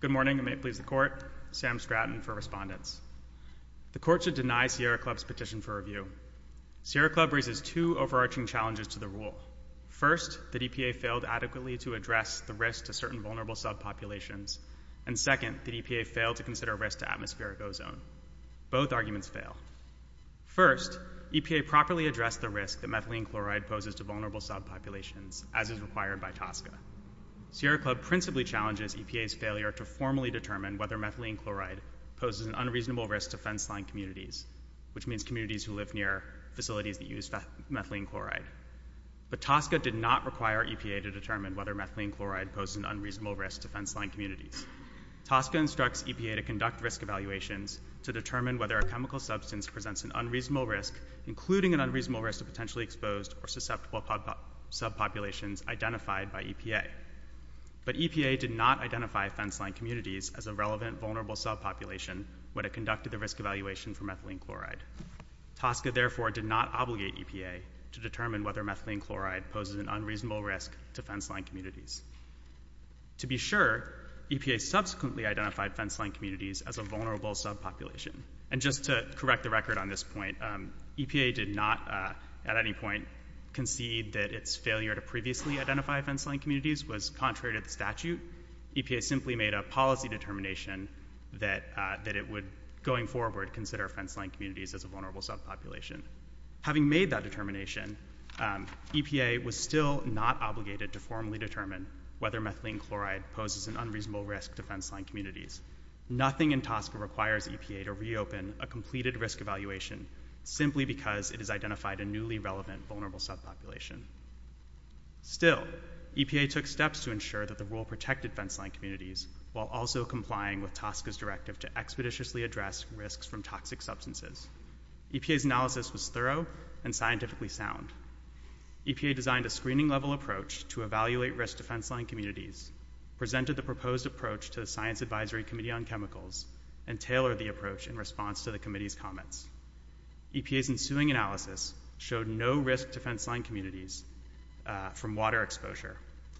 Good morning, and may it please the Court. Sam Stratton for Respondents. The Court should deny Sierra Club's petition for review. Sierra Club raises two overarching challenges to the rule. First, that EPA failed adequately to address the risk to certain vulnerable subpopulations. And second, that EPA failed to consider risk to atmospheric ozone. Both arguments fail. First, EPA properly addressed the risk that methylene chloride poses to vulnerable subpopulations, as is required by TSCA. Sierra Club principally challenges EPA's failure to formally determine whether methylene chloride poses an unreasonable risk to fenceline communities, which means communities who live near facilities that use methylene chloride. But TSCA did not require EPA to determine whether methylene chloride poses an unreasonable risk to fenceline communities. TSCA instructs EPA to conduct risk evaluations to determine whether a chemical substance presents an unreasonable risk, including an unreasonable risk of potentially exposed or susceptible subpopulations identified by EPA. But EPA did not identify fenceline communities as a relevant vulnerable subpopulation when it conducted the risk evaluation for methylene chloride. TSCA, therefore, did not obligate EPA to determine whether methylene chloride poses an unreasonable risk to fenceline communities. To be sure, EPA subsequently identified fenceline communities as a vulnerable subpopulation. And just to correct the record on this point, EPA did not, at any point, concede that its failure to previously identify fenceline communities was contrary to the statute. EPA simply made a policy determination that it would, going forward, consider fenceline communities as a vulnerable subpopulation. Having made that determination, EPA was still not obligated to formally determine whether methylene chloride poses an unreasonable risk to fenceline communities. Nothing in TSCA requires EPA to reopen a completed risk evaluation, simply because it has identified a newly relevant vulnerable subpopulation. Still, EPA took steps to ensure that the rule protected fenceline communities, while also complying with TSCA's directive to expeditiously address risks from toxic substances. EPA's analysis was thorough and scientifically sound. EPA designed a screening-level approach to evaluate risk to fenceline communities, presented the proposed approach to the Science Advisory Committee on Chemicals, and tailored the approach in response to the committee's comments. EPA's ensuing analysis showed no risk to fenceline communities from water exposure,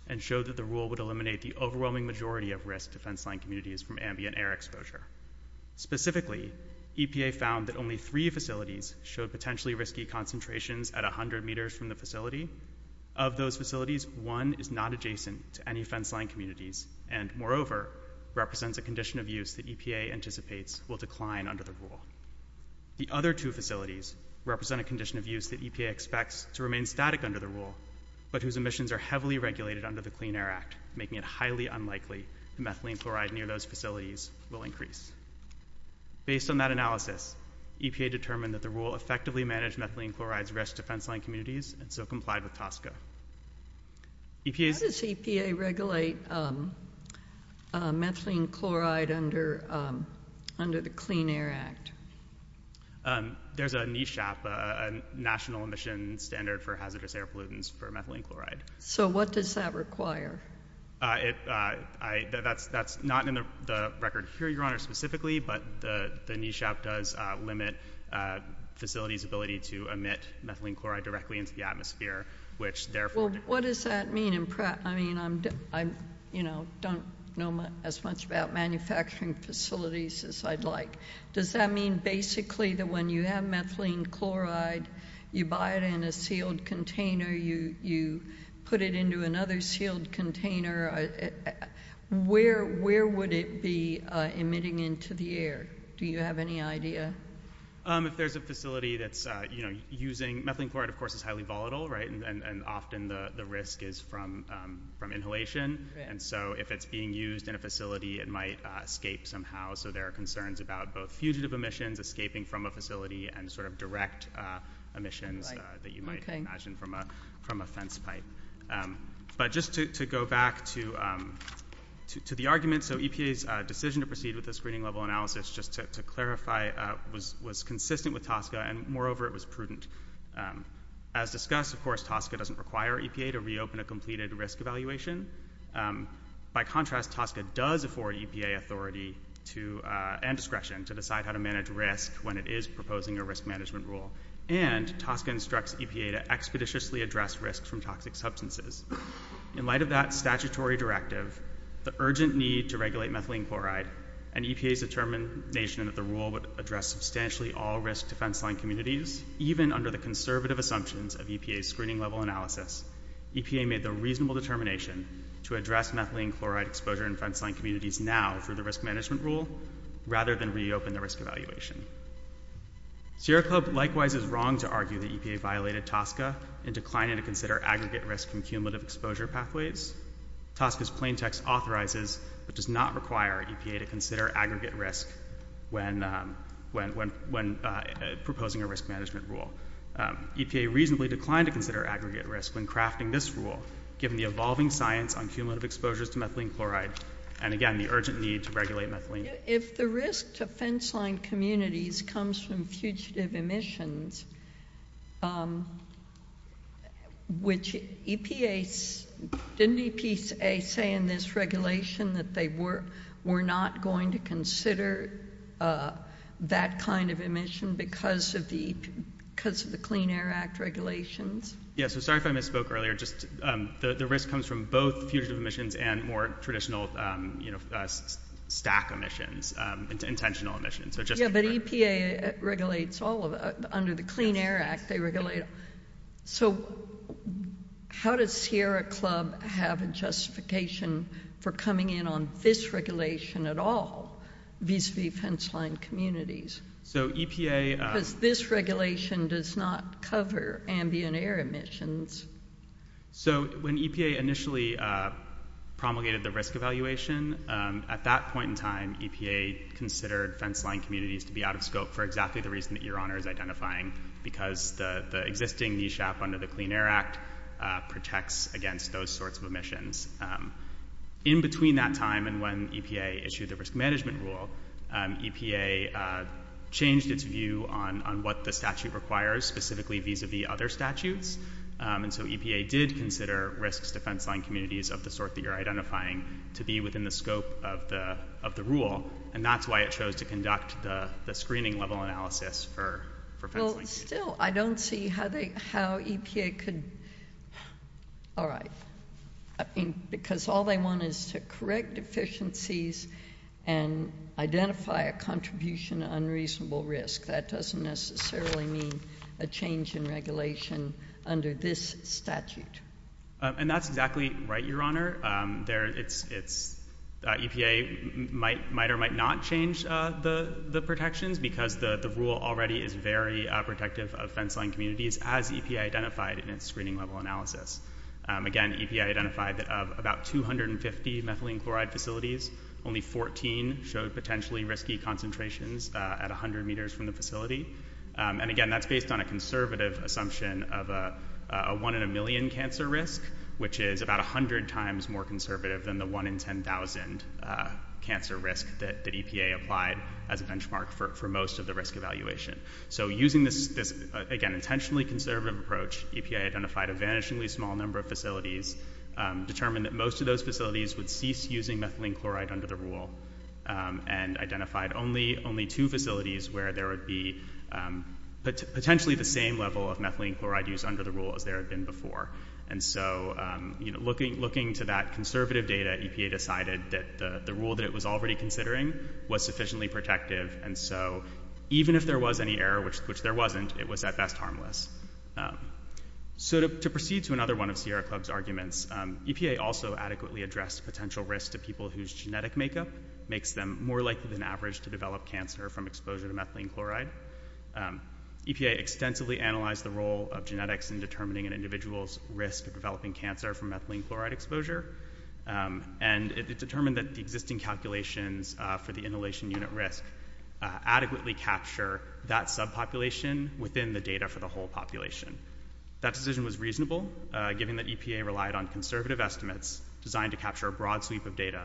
and showed that the rule would eliminate the overwhelming majority of risk to fenceline communities from ambient air exposure. Specifically, EPA found that only three facilities showed potentially risky concentrations at 100 meters from the facility. Of those facilities, one is not adjacent to any fenceline communities, and, moreover, represents a condition of use that EPA anticipates will decline under the rule. The other two facilities represent a condition of use that EPA expects to remain static under the rule, but whose emissions are heavily regulated under the Clean Air Act, making it highly unlikely that methylene chloride near those facilities will increase. Based on that analysis, EPA determined that the rule effectively managed methylene chloride's risk to fenceline communities, and so complied with TSCA. How does EPA regulate methylene chloride under the Clean Air Act? There's a NESHAP, National Emission Standard for Hazardous Air Pollutants for Methylene Chloride. So what does that require? That's not in the record here, Your Honor, specifically, but the NESHAP does limit facilities' ability to emit methylene chloride directly into the atmosphere, which therefore— Well, what does that mean? I mean, I don't know as much about manufacturing facilities as I'd like. Does that mean basically that when you have methylene chloride, you buy it in a sealed container, you put it into another sealed container? Where would it be emitting into the air? Do you have any idea? If there's a facility that's using— Methylene chloride, of course, is highly volatile, right? And often the risk is from inhalation. And so if it's being used in a facility, it might escape somehow. So there are concerns about both fugitive emissions escaping from a facility and sort of direct emissions that you might imagine from a fence pipe. But just to go back to the argument, so EPA's decision to proceed with the screening level analysis, just to clarify, was consistent with TSCA, and moreover, it was prudent. As discussed, of course, TSCA doesn't require EPA to reopen a completed risk evaluation. By contrast, TSCA does afford EPA authority and discretion to decide how to manage risk when it is proposing a risk management rule. And TSCA instructs EPA to expeditiously address risks from toxic substances. In light of that statutory directive, the urgent need to regulate methylene chloride and EPA's determination that the rule would address substantially all risk defense line communities, even under the conservative assumptions of EPA's screening level analysis, EPA made the reasonable determination to address methylene chloride exposure in fence line communities now through the risk management rule rather than reopen the risk evaluation. Sierra Club likewise is wrong to argue that EPA violated TSCA in declining to consider aggregate risk from cumulative exposure pathways. TSCA's plain text authorizes but does not require EPA to consider aggregate risk when proposing a risk management rule. EPA reasonably declined to consider aggregate risk when crafting this rule, given the evolving science on cumulative exposures to methylene chloride and, again, the urgent need to regulate methylene. If the risk to fence line communities comes from fugitive emissions, which EPA, didn't EPA say in this regulation that they were not going to consider that kind of emission because of the, because of the Clean Air Act regulations? Yeah, so sorry if I misspoke earlier. Just, the risk comes from both fugitive emissions and more traditional, you know, stack emissions, intentional emissions. So just. Yeah, but EPA regulates all of, under the Clean Air Act, they regulate. So how does Sierra Club have a justification for coming in on this regulation at all, vis-a-vis fence line communities? So EPA. Because this regulation does not cover ambient air emissions. So when EPA initially promulgated the risk evaluation, at that point in time, EPA considered fence line communities to be out of scope for exactly the reason that your honor is identifying, because the existing NESHAP under the Clean Air Act protects against those sorts of emissions. In between that time and when EPA issued the risk management rule, EPA changed its view on what the statute requires specifically vis-a-vis other statutes. And so EPA did consider risks to fence line communities of the sort that you're identifying to be within the scope of the rule. And that's why it chose to conduct the screening level analysis for fence line communities. Well, still, I don't see how they, how EPA could. All right. Because all they want is to correct deficiencies. And identify a contribution to unreasonable risk. That doesn't necessarily mean a change in regulation under this statute. And that's exactly right, your honor. EPA might or might not change the protections, because the rule already is very protective of fence line communities, as EPA identified in its screening level analysis. Again, EPA identified that of about 250 methylene chloride facilities, only 14 showed potentially risky concentrations at 100 meters from the facility. And again, that's based on a conservative assumption of a one in a million cancer risk, which is about 100 times more conservative than the one in 10,000 cancer risk that EPA applied as a benchmark for most of the risk evaluation. So using this, again, intentionally conservative approach, EPA identified a vanishingly small number of facilities, determined that most of those facilities would cease using methylene chloride under the rule. And identified only two facilities where there would be potentially the same level of methylene chloride use under the rule as there had been before. And so, you know, looking to that conservative data, EPA decided that the rule that it was already considering was sufficiently protective. And so even if there was any error, which there wasn't, it was at best harmless. So to proceed to another one of Sierra Club's arguments, EPA also adequately addressed potential risk to people whose genetic makeup makes them more likely than average to develop cancer from exposure to methylene chloride. EPA extensively analyzed the role of genetics in determining an individual's risk of developing cancer from methylene chloride exposure. And it determined that the existing calculations for the inhalation unit risk adequately capture that subpopulation within the data for the whole population. That decision was reasonable, given that EPA relied on conservative estimates designed to capture a broad sweep of data,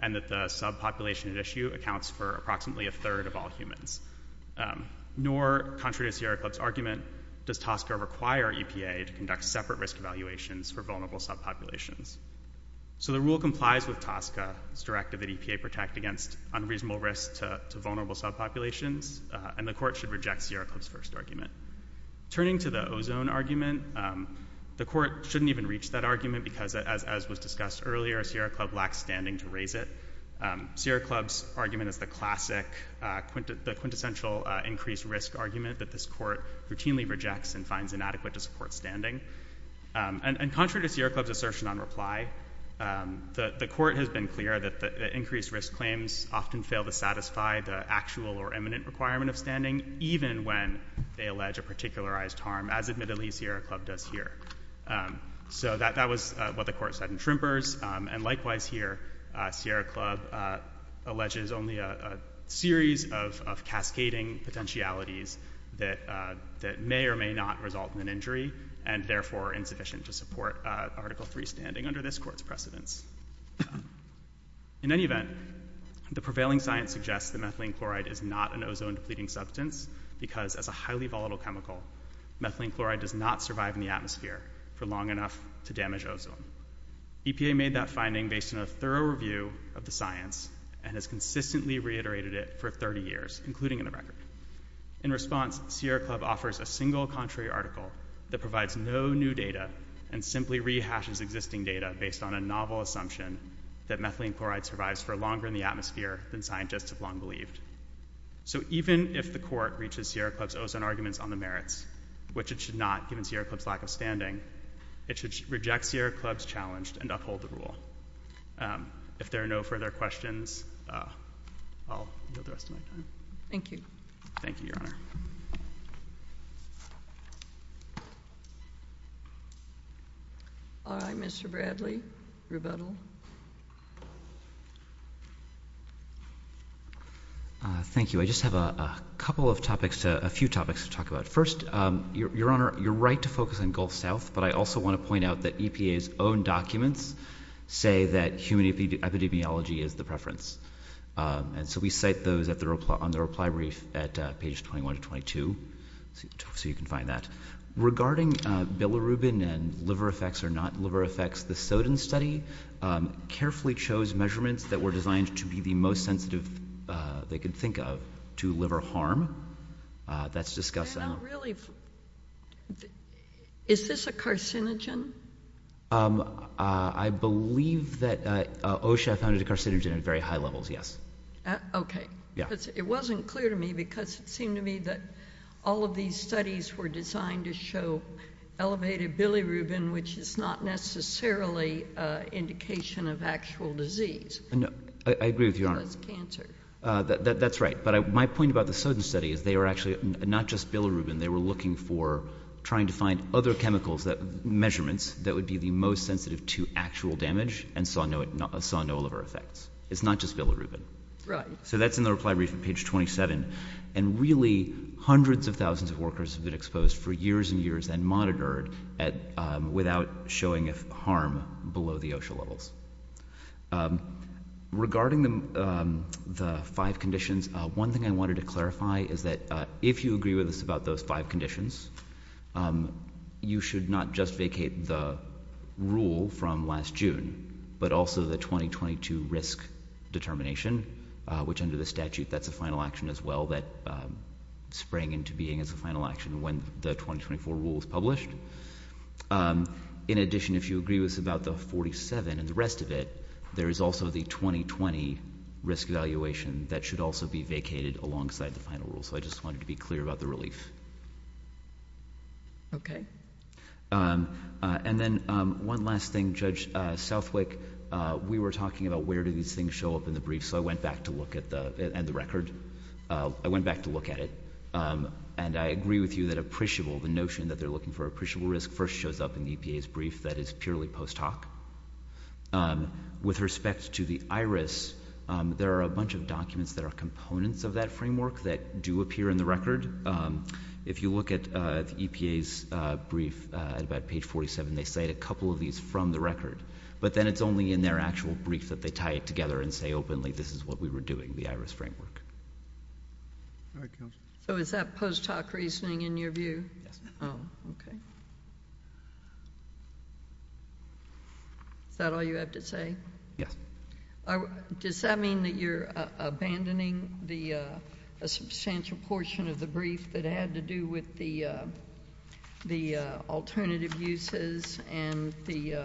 and that the subpopulation at issue accounts for approximately a third of all humans. Nor, contrary to Sierra Club's argument, does TSCA require EPA to conduct separate risk evaluations for vulnerable subpopulations. So the rule complies with TSCA's directive that EPA protect against unreasonable risk to vulnerable subpopulations, and the court should reject Sierra Club's first argument. Turning to the ozone argument, the court shouldn't even reach that argument, because as was discussed earlier, Sierra Club lacks standing to raise it. Sierra Club's argument is the classic quintessential increased risk argument that this court routinely rejects and finds inadequate to support standing. And contrary to Sierra Club's assertion on reply, the court has been clear that the increased risk claims often fail to satisfy the actual or eminent requirement of standing, even when they allege a particularized harm, as admittedly Sierra Club does here. So that was what the court said in Trimper's. And likewise here, Sierra Club alleges only a series of cascading potentialities that may or may not result in an injury, and therefore insufficient to support Article III standing under this court's precedence. In any event, the prevailing science suggests that methylene chloride is not an ozone-depleting substance, because as a highly volatile chemical, methylene chloride does not survive in the atmosphere for long enough to damage ozone. EPA made that finding based on a thorough review of the science, and has consistently reiterated it for 30 years, including in the record. In response, Sierra Club offers a single contrary article that provides no new data and simply rehashes existing data based on a novel assumption that methylene chloride survives for longer in the atmosphere than scientists have long believed. So even if the court reaches Sierra Club's ozone arguments on the merits, which it should not given Sierra Club's lack of standing, it should reject Sierra Club's challenge and uphold the rule. If there are no further questions, I'll yield the rest of my time. Thank you. Thank you, Your Honor. All right, Mr. Bradley, rebuttal. Thank you. I just have a couple of topics, a few topics to talk about. First, Your Honor, you're right to focus on Gulf South, but I also want to point out that EPA's own documents say that human epidemiology is the preference. And so we cite those on the reply brief at pages 21 to 22, so you can find that. Regarding bilirubin and liver effects or not liver effects, the Soden study carefully chose measurements that were designed to be the most sensitive they could think of to liver harm. That's discussed. They're not really. Is this a carcinogen? I believe that OSHA found it a carcinogen at very high levels, yes. Okay. Yeah. It wasn't clear to me because it seemed to me that all of these studies were designed to show elevated bilirubin, which is not necessarily an indication of actual disease. I agree with you, Your Honor. It's cancer. That's right. But my point about the Soden study is they are actually not just bilirubin. They were looking for trying to find other chemicals, measurements that would be the most sensitive to actual damage and saw no liver effects. It's not just bilirubin. Right. That's in the reply brief on page 27. Really, hundreds of thousands of workers have been exposed for years and years and monitored without showing harm below the OSHA levels. Regarding the five conditions, one thing I wanted to clarify is that if you agree with us about those five conditions, you should not just vacate the rule from last June, but also the 2022 risk determination, which under the statute, that's a final action as well that sprang into being as a final action when the 2024 rule was published. In addition, if you agree with us about the 47 and the rest of it, there is also the 2020 risk evaluation that should also be vacated alongside the final rule. So I just wanted to be clear about the relief. Okay. And then one last thing, Judge Southwick, we were talking about where do these things show up in the brief. So I went back to look at the record. I went back to look at it. And I agree with you that appreciable, the notion that they're looking for appreciable risk first shows up in EPA's brief that is purely post hoc. With respect to the IRIS, there are a bunch of documents that are components of that framework that do appear in the record. If you look at the EPA's brief at about page 47, they cite a couple of these from the record, but then it's only in their actual brief that they tie it together and say openly, this is what we were doing, the IRIS framework. So is that post hoc reasoning in your view? Okay. Is that all you have to say? Yes. Does that mean that you're abandoning the substantial portion of the brief that had to do with the alternative uses and the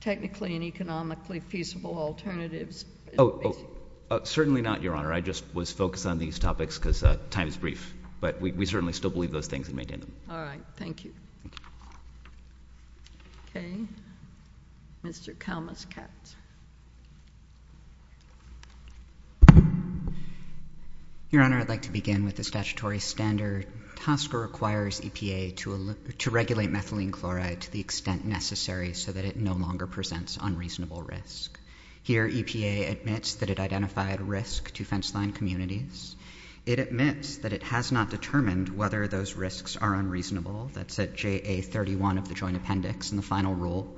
technically and economically feasible alternatives? Certainly not, Your Honor. I just was focused on these topics because time is brief, but we certainly still believe those things and maintain them. All right. Thank you. Okay. Mr. Kalmus Katz. Your Honor, I'd like to begin with the statutory standard. TSCA requires EPA to regulate methylene chloride to the extent necessary so that it no longer presents unreasonable risk. Here, EPA admits that it identified risk to fence line communities. It admits that it has not determined whether those risks are unreasonable. That's at JA31 of the joint appendix in the final rule.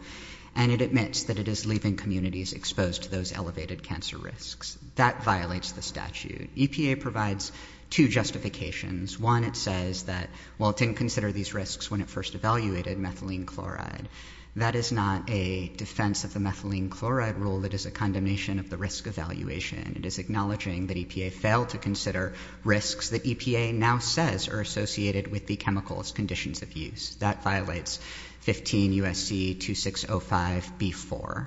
And it admits that it is leaving communities exposed to those elevated cancer risks. That violates the statute. EPA provides two justifications. One, it says that, well, it didn't consider these risks when it first evaluated methylene chloride. That is not a defense of the methylene chloride rule. That is a condemnation of the risk evaluation. It is acknowledging that EPA failed to consider risks that EPA now says are associated with the chemical's conditions of use. That violates 15 USC 2605B4.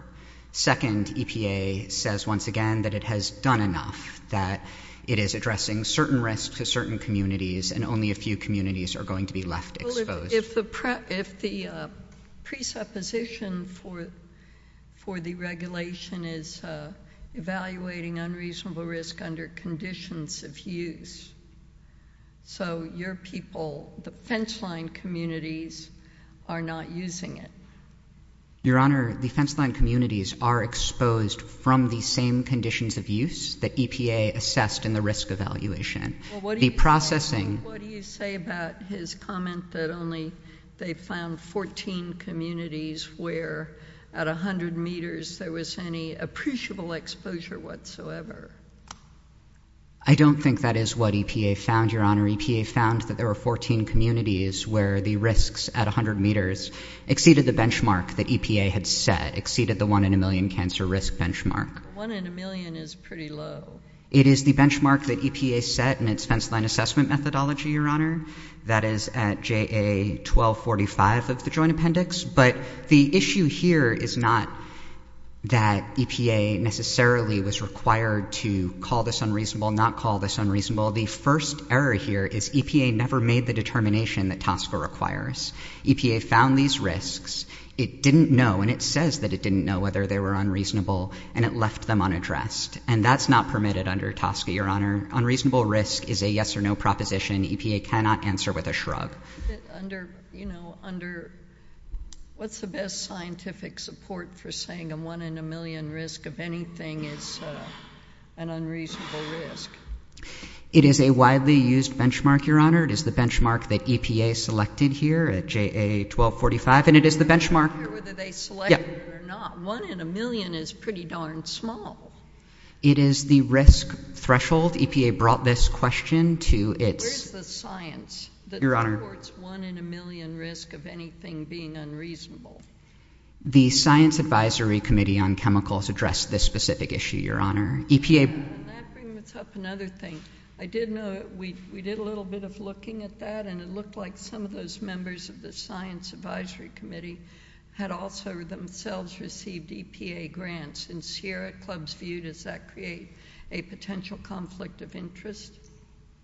Second, EPA says once again that it has done enough, that it is addressing certain risks to certain communities, and only a few communities are going to be left exposed. Well, if the presupposition for the regulation is evaluating unreasonable risk under conditions of use, so your people, the fence line communities, are not using it. Your Honor, the fence line communities are exposed from the same conditions of use that EPA assessed in the risk evaluation. What do you say about his comment that only they found 14 communities where at 100 meters there was any appreciable exposure whatsoever? I don't think that is what EPA found, Your Honor. EPA found that there were 14 communities where the risks at 100 meters exceeded the benchmark that EPA had set, exceeded the one in a million cancer risk benchmark. One in a million is pretty low. It is the benchmark that EPA set in its fence line assessment methodology, Your Honor. That is at JA 1245 of the joint appendix. The issue here is not that EPA necessarily was required to call this unreasonable, not call this unreasonable. The first error here is EPA never made the determination that TSCA requires. EPA found these risks. It didn't know, and it says that it didn't know whether they were unreasonable, and it left them unaddressed. That is not permitted under TSCA, Your Honor. Unreasonable risk is a yes or no proposition. EPA cannot answer with a shrug. Under, you know, under, what's the best scientific support for saying a one in a million risk of anything is an unreasonable risk? It is a widely used benchmark, Your Honor. It is the benchmark that EPA selected here at JA 1245, and it is the benchmark. I'm not sure whether they selected it or not. One in a million is pretty darn small. It is the risk threshold. EPA brought this question to its— Where's the science? That supports one in a million risk of anything being unreasonable. The Science Advisory Committee on Chemicals addressed this specific issue, Your Honor. And that brings up another thing. I did know, we did a little bit of looking at that, and it looked like some of those members of the Science Advisory Committee had also themselves received EPA grants. And here at ClubsView, does that create a potential conflict of interest?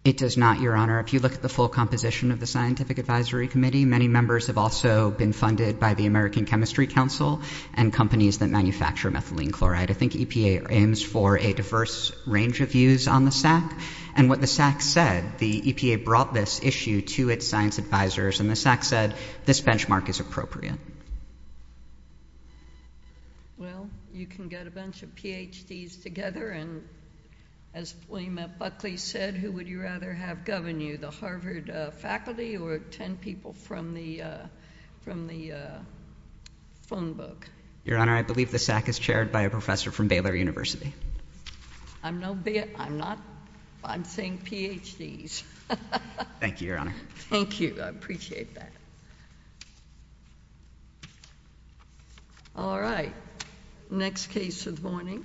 It does not, Your Honor. If you look at the full composition of the Scientific Advisory Committee, many members have also been funded by the American Chemistry Council and companies that manufacture methylene chloride. I think EPA aims for a diverse range of views on the SAC. And what the SAC said, the EPA brought this issue to its science advisors, and the SAC said this benchmark is appropriate. Well, you can get a bunch of PhDs together, and as William F. Buckley said, who would you rather have govern you, the Harvard faculty or 10 people from the phone book? Your Honor, I believe the SAC is chaired by a professor from Baylor University. I'm not, I'm saying PhDs. Thank you, Your Honor. Thank you. I appreciate that. All right. Next case of the morning.